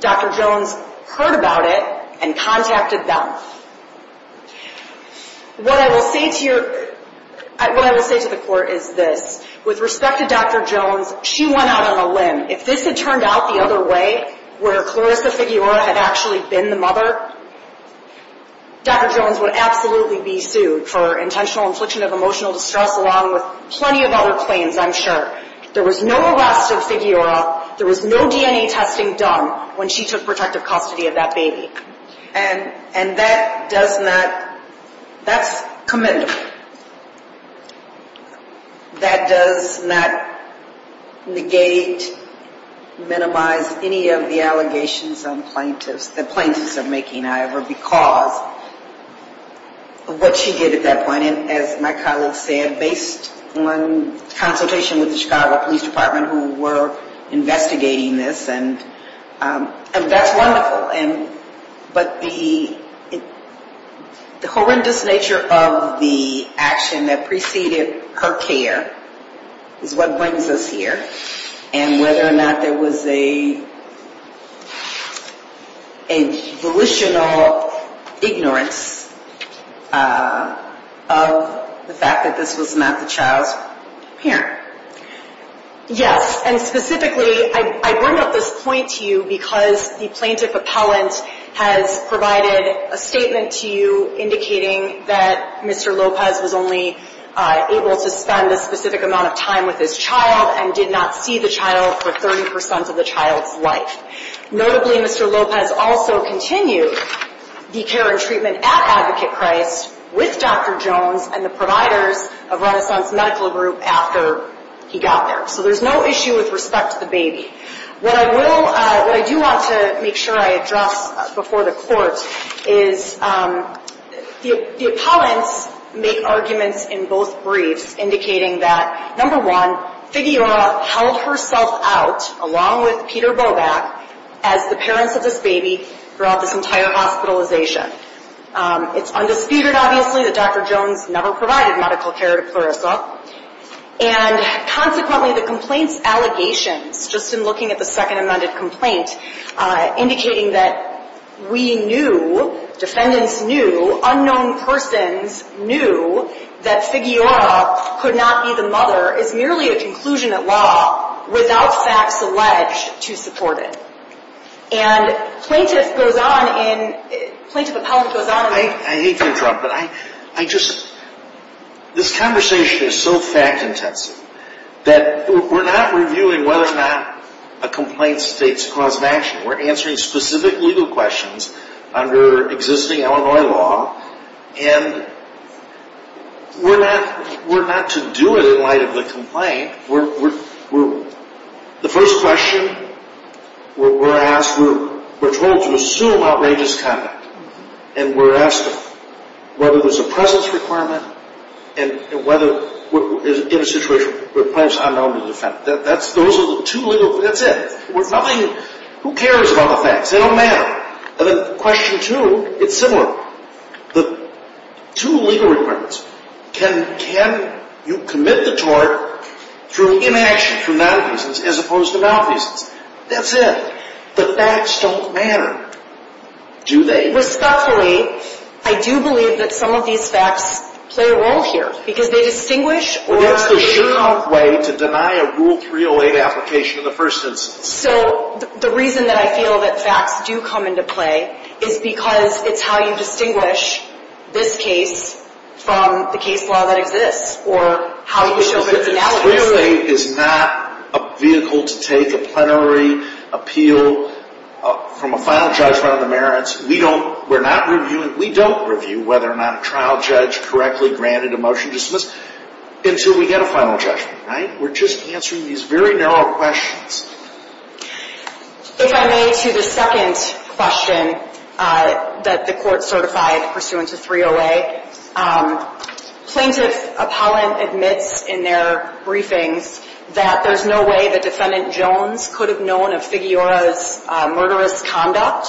Dr. Jones heard about it and contacted them. What I will say to your, what I will say to the court is this. With respect to Dr. Jones, she went out on a limb. If this had turned out the other way, where Clarissa Figueroa had actually been the mother, Dr. Jones would absolutely be sued for intentional infliction of emotional distress along with plenty of other claims, I'm sure. There was no arrest of Figueroa. There was no DNA testing done when she took protective custody of that baby. And that does not, that's commendable. That does not negate, minimize any of the allegations on plaintiffs, that plaintiffs are making, however, because of what she did at that point. And as my colleague said, based on consultation with the Chicago Police Department who were investigating this, and that's wonderful. But the horrendous nature of the action that preceded her care is what brings us here. And whether or not there was a volitional ignorance of the fact that this was not the child's parent. Yes, and specifically, I bring up this point to you because the plaintiff appellant has provided a statement to you indicating that Mr. Lopez was only able to spend a specific amount of time with his child and did not see the child for 30% of the child's life. Notably, Mr. Lopez also continued the care and treatment at Advocate Christ with Dr. Jones and the providers of Renaissance Medical Group after he got there. So there's no issue with respect to the baby. What I will, what I do want to make sure I address before the court is the appellants make arguments in both briefs indicating that, number one, Figueroa held herself out, along with Peter Bobak, as the parents of this baby throughout this entire hospitalization. It's undisputed, obviously, that Dr. Jones never provided medical care to Clarissa. And consequently, the complaint's allegations, just in looking at the second amended complaint, indicating that we knew, defendants knew, unknown persons knew, that Figueroa could not be the mother is merely a conclusion at law without facts alleged to support it. And plaintiff goes on in, plaintiff appellant goes on in... I hate to interrupt, but I just, this conversation is so fact intensive that we're not reviewing whether or not a complaint states cause of action. We're answering specific legal questions under existing Illinois law. And we're not, we're not to do it in light of the complaint. We're, the first question we're asked, we're told to assume outrageous conduct. And we're asked whether there's a presence requirement, and whether, in a situation where the plaintiff's unknown to the defendant. Those are the two legal, that's it. There's nothing, who cares about the facts? They don't matter. And then question two, it's similar. The two legal requirements, can you commit the tort through inaction for non-reasons as opposed to non-reasons? That's it. The facts don't matter, do they? And respectfully, I do believe that some of these facts play a role here. Because they distinguish... Well, that's the sure way to deny a Rule 308 application in the first instance. So, the reason that I feel that facts do come into play is because it's how you distinguish this case from the case law that exists. Or how you show that it's analogous. Rule 308 is not a vehicle to take a plenary appeal from a final judgment of the merits. We don't review whether or not a trial judge correctly granted a motion to dismiss until we get a final judgment. We're just answering these very narrow questions. If I may, to the second question that the court certified pursuant to 308. Plaintiff Apollon admits in their briefings that there's no way that defendant Jones could have known of Figueroa's murderous conduct.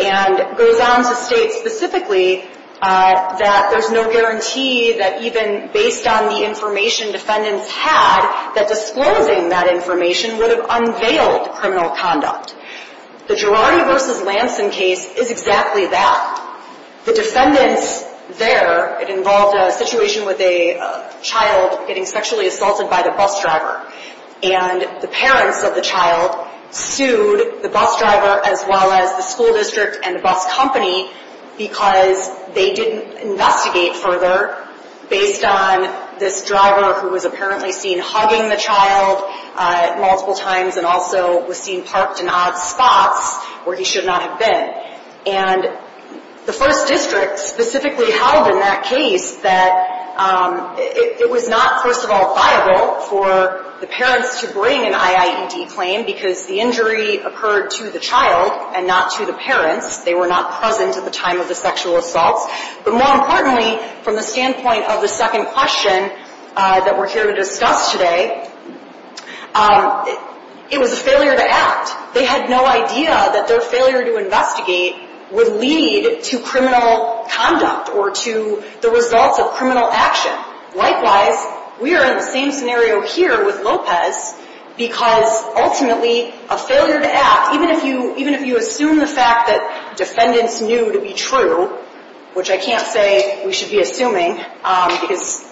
And goes on to state specifically that there's no guarantee that even based on the information defendants had, that disclosing that information would have unveiled criminal conduct. The Girardi v. Lanson case is exactly that. The defendants there, it involved a situation with a child getting sexually assaulted by the bus driver. And the parents of the child sued the bus driver as well as the school district and the bus company. Because they didn't investigate further based on this driver who was apparently seen hugging the child multiple times. And also was seen parked in odd spots where he should not have been. And the first district specifically held in that case that it was not, first of all, viable for the parents to bring an IIED claim because the injury occurred to the child and not to the parents. They were not present at the time of the sexual assaults. But more importantly, from the standpoint of the second question that we're here to discuss today, it was a failure to act. They had no idea that their failure to investigate would lead to criminal conduct or to the results of criminal action. Likewise, we are in the same scenario here with Lopez because ultimately a failure to act, even if you assume the fact that defendants knew to be true, which I can't say we should be assuming because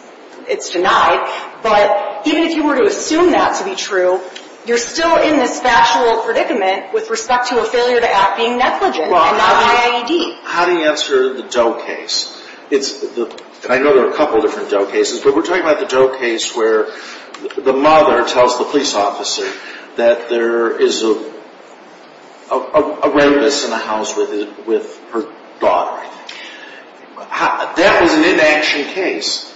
it's denied, but even if you were to assume that to be true, you're still in this factual predicament with respect to a failure to act being negligent and not an IIED. How do you answer the Doe case? I know there are a couple of different Doe cases, but we're talking about the Doe case where the mother tells the police officer that there is a rapist in the house with her daughter. That was an inaction case.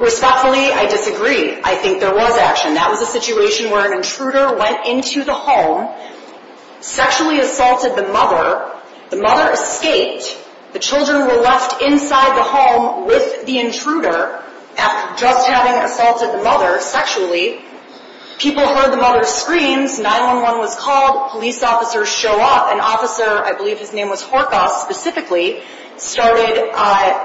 Respectfully, I disagree. I think there was action. That was a situation where an intruder went into the home, sexually assaulted the mother. The mother escaped. The children were left inside the home with the intruder after just having assaulted the mother sexually. People heard the mother's screams. 911 was called. Police officers show up. An officer, I believe his name was Horkoff specifically, started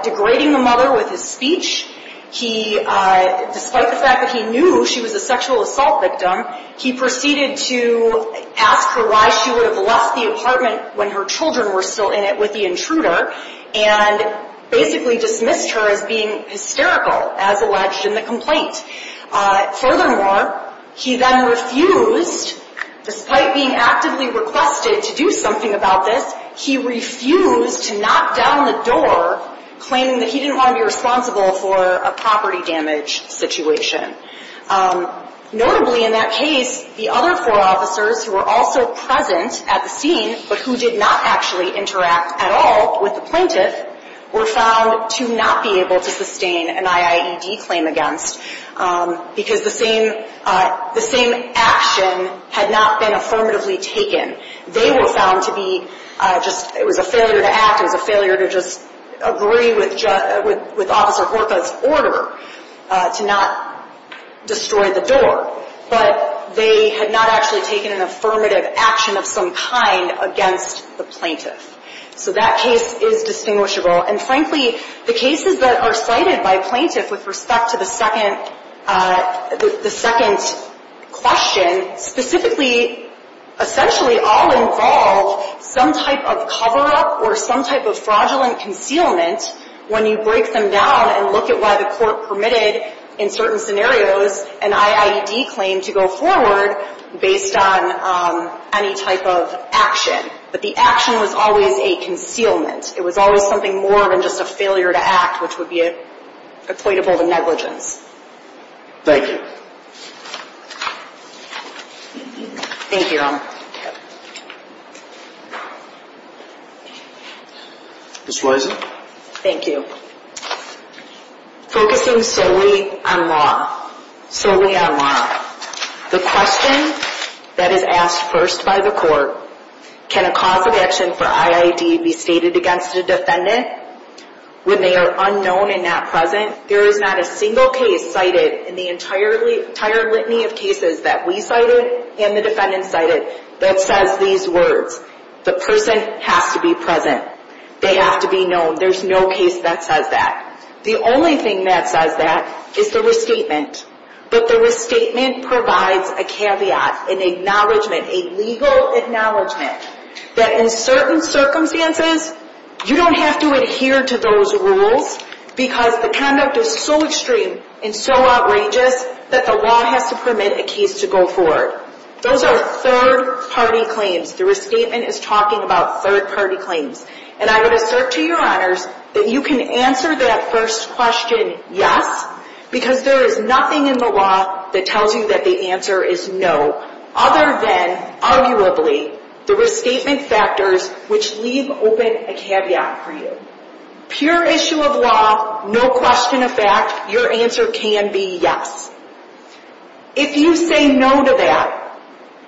degrading the mother with his speech. Despite the fact that he knew she was a sexual assault victim, he proceeded to ask her why she would have left the apartment when her children were still in it with the intruder and basically dismissed her as being hysterical, as alleged in the complaint. Furthermore, he then refused, despite being actively requested to do something about this, he refused to knock down the door claiming that he didn't want to be responsible for a property damage situation. Notably in that case, the other four officers who were also present at the scene but who did not actually interact at all with the plaintiff were found to not be able to sustain an IIED claim against because the same action had not been affirmatively taken. They were found to be just, it was a failure to act. It was a failure to just agree with Officer Horkoff's order to not destroy the door. But they had not actually taken an affirmative action of some kind against the plaintiff. So that case is distinguishable. And frankly, the cases that are cited by plaintiffs with respect to the second question specifically, essentially all involve some type of cover-up or some type of fraudulent concealment when you break them down and look at why the court permitted, in certain scenarios, an IIED claim to go forward based on any type of action. But the action was always a concealment. It was always something more than just a failure to act, which would be equatable to negligence. Thank you. Thank you, Your Honor. Ms. Wiesen? Thank you. Focusing solely on law, solely on law. The question that is asked first by the court, can a cause of action for IIED be stated against a defendant when they are unknown and not present? There is not a single case cited in the entire litany of cases that we cited and the defendants cited that says these words. The person has to be present. They have to be known. There's no case that says that. The only thing that says that is the restatement. But the restatement provides a caveat, an acknowledgment, a legal acknowledgment that in certain circumstances, you don't have to adhere to those rules because the conduct is so extreme and so outrageous that the law has to permit a case to go forward. Those are third-party claims. The restatement is talking about third-party claims. And I would assert to Your Honors that you can answer that first question, yes, because there is nothing in the law that tells you that the answer is no other than, arguably, the restatement factors which leave open a caveat for you. Pure issue of law, no question of fact, your answer can be yes. If you say no to that,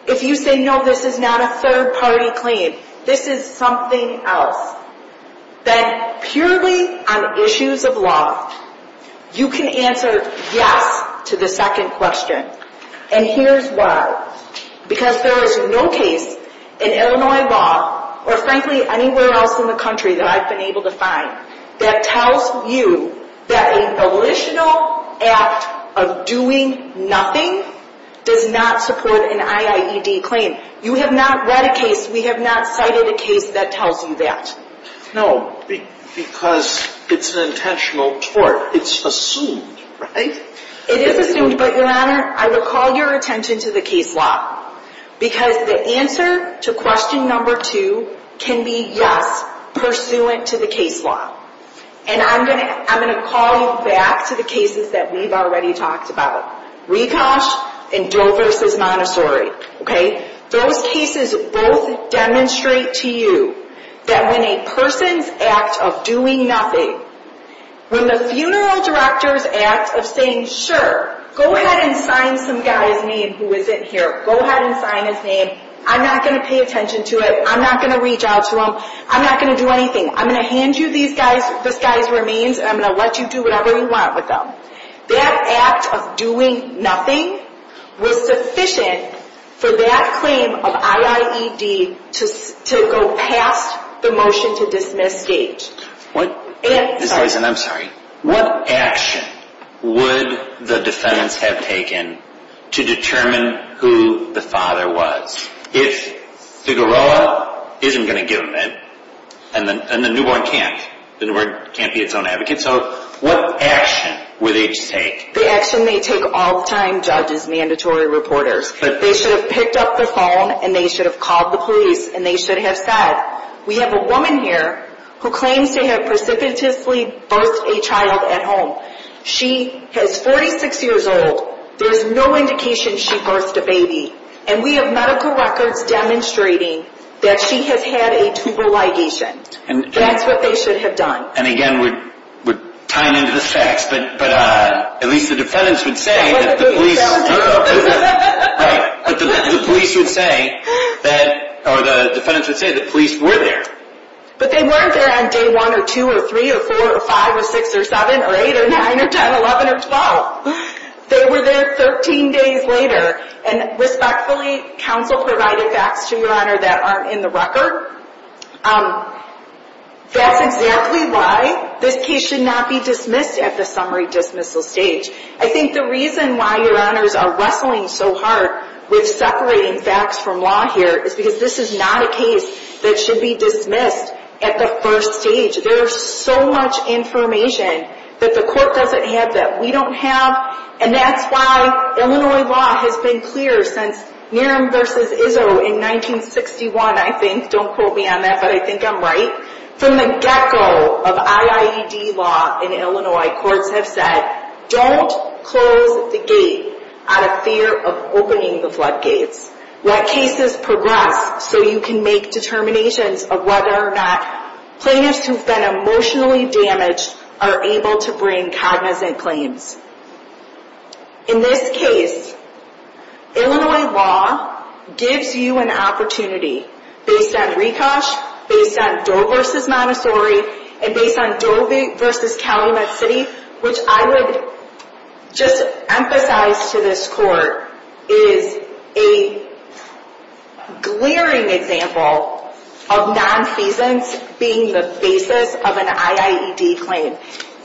if you say, no, this is not a third-party claim, this is something else, then purely on issues of law, you can answer yes to the second question. And here's why. Because there is no case in Illinois law or, frankly, anywhere else in the country that I've been able to find that tells you that a volitional act of doing nothing does not support an IIED claim. You have not read a case. We have not cited a case that tells you that. No, because it's an intentional tort. It's assumed, right? It is assumed, but, Your Honor, I would call your attention to the case law because the answer to question number two can be yes, pursuant to the case law. And I'm going to call you back to the cases that we've already talked about, Rekosch and Dover v. Montessori. Those cases both demonstrate to you that when a person's act of doing nothing, when the funeral director's act of saying, sure, go ahead and sign some guy's name who isn't here, go ahead and sign his name, I'm not going to pay attention to it, I'm not going to reach out to him, I'm not going to do anything, I'm going to hand you this guy's remains and I'm going to let you do whatever you want with them. That act of doing nothing was sufficient for that claim of IIED to go past the motion to dismiss stage. I'm sorry. What action would the defendants have taken to determine who the father was? If the Garoa isn't going to give him, and the newborn can't, the newborn can't be its own advocate, so what action would they take? The action they take all the time, judges, mandatory reporters. They should have picked up the phone and they should have called the police and they should have said, we have a woman here who claims to have precipitously birthed a child at home. She is 46 years old. There's no indication she birthed a baby. And we have medical records demonstrating that she has had a tumor ligation. That's what they should have done. And again, we're tying into the facts, but at least the defendants would say that the police were there. But they weren't there on day 1 or 2 or 3 or 4 or 5 or 6 or 7 or 8 or 9 or 10 or 11 or 12. They were there 13 days later. And respectfully, counsel provided facts to your honor that aren't in the record. That's exactly why this case should not be dismissed at the summary dismissal stage. I think the reason why your honors are wrestling so hard with separating facts from law here is because this is not a case that should be dismissed at the first stage. There is so much information that the court doesn't have that we don't have, and that's why Illinois law has been clear since Nearum v. Izzo in 1961, I think. Don't quote me on that, but I think I'm right. From the get-go of IIED law in Illinois, courts have said, don't close the gate out of fear of opening the floodgates. Let cases progress so you can make determinations of whether or not plaintiffs who've been emotionally damaged are able to bring cognizant claims. In this case, Illinois law gives you an opportunity based on Rekosch, based on Doe v. Montessori, and based on Doe v. Calumet City, which I would just emphasize to this court is a glaring example of nonfeasance being the basis of an IIED claim.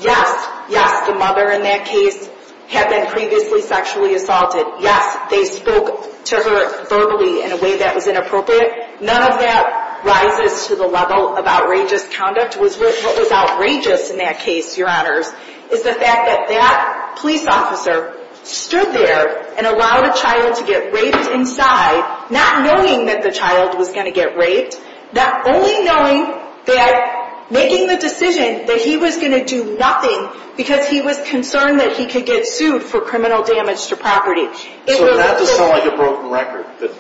Yes, yes, the mother in that case had been previously sexually assaulted. Yes, they spoke to her verbally in a way that was inappropriate. None of that rises to the level of outrageous conduct. What was outrageous in that case, Your Honors, is the fact that that police officer stood there and allowed a child to get raped inside, not knowing that the child was going to get raped, not only knowing that making the decision that he was going to do nothing because he was concerned that he could get sued for criminal damage to property. So not to sound like a broken record, but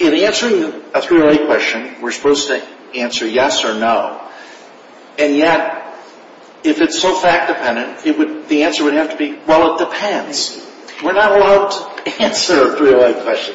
in answering a 308 question, we're supposed to answer yes or no, and yet if it's so fact-dependent, the answer would have to be, well, it depends. We're not allowed to answer a 308 question.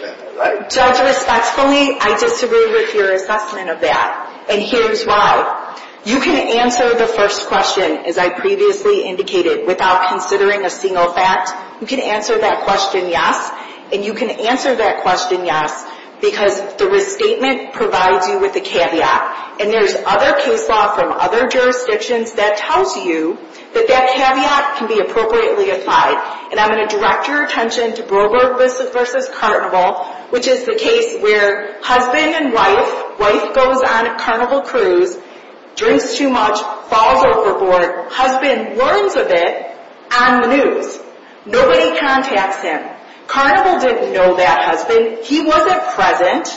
Judge, respectfully, I disagree with your assessment of that, and here's why. You can answer the first question, as I previously indicated, without considering a single fact. You can answer that question yes, and you can answer that question yes because the restatement provides you with the caveat, and there's other case law from other jurisdictions that tells you that that caveat can be appropriately applied. And I'm going to direct your attention to Broberg v. Carnival, which is the case where husband and wife, wife goes on a carnival cruise, drinks too much, falls overboard. Husband learns of it on the news. Nobody contacts him. Carnival didn't know that husband. He wasn't present,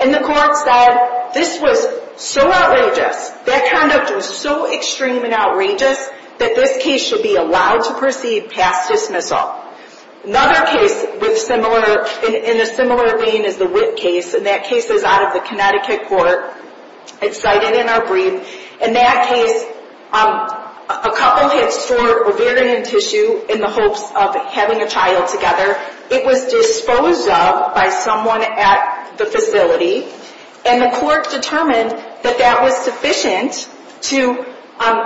and the court said this was so outrageous. That conduct was so extreme and outrageous that this case should be allowed to proceed past dismissal. Another case in a similar vein is the Witt case, and that case is out of the Connecticut court. It's cited in our brief. In that case, a couple had stored ovarian tissue in the hopes of having a child together. It was disposed of by someone at the facility, and the court determined that that was sufficient to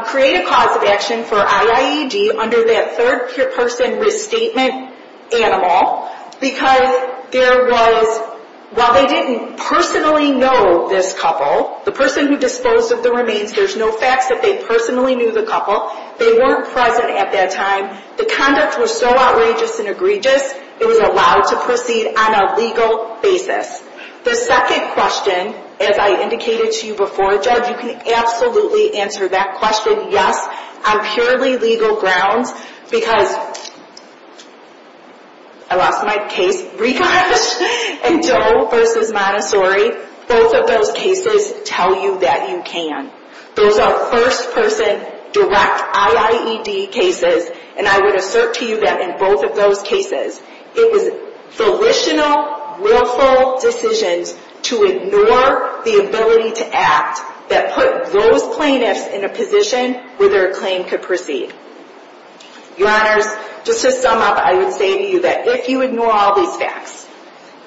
create a cause of action for IIED under that third-person restatement animal because there was, while they didn't personally know this couple, the person who disposed of the remains, there's no facts that they personally knew the couple. They weren't present at that time. The conduct was so outrageous and egregious, it was allowed to proceed on a legal basis. The second question, as I indicated to you before, Judge, you can absolutely answer that question yes on purely legal grounds because I lost my case. Ricoch and Doe versus Montessori, both of those cases tell you that you can. Those are first-person direct IIED cases, and I would assert to you that in both of those cases, it was volitional, willful decisions to ignore the ability to act that put those plaintiffs in a position where their claim could proceed. Your Honors, just to sum up, I would say to you that if you ignore all these facts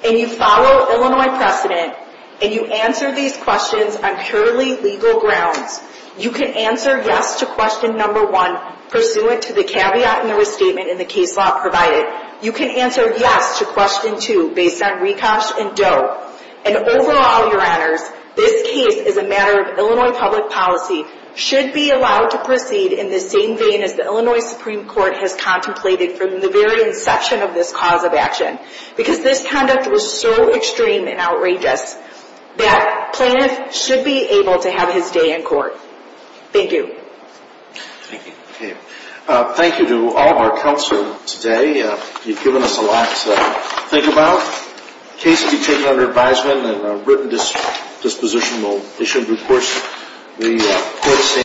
and you follow Illinois precedent and you answer these questions on purely legal grounds, you can answer yes to question number one, pursuant to the caveat in the restatement in the case law provided. You can answer yes to question two, based on Ricoch and Doe. And overall, Your Honors, this case is a matter of Illinois public policy, should be allowed to proceed in the same vein as the Illinois Supreme Court has contemplated from the very inception of this cause of action because this conduct was so extreme and outrageous that plaintiffs should be able to have his day in court. Thank you. Thank you. Thank you to all of our counselors today. You've given us a lot to think about. The case will be taken under advisement, and a written disposition will be issued before the court.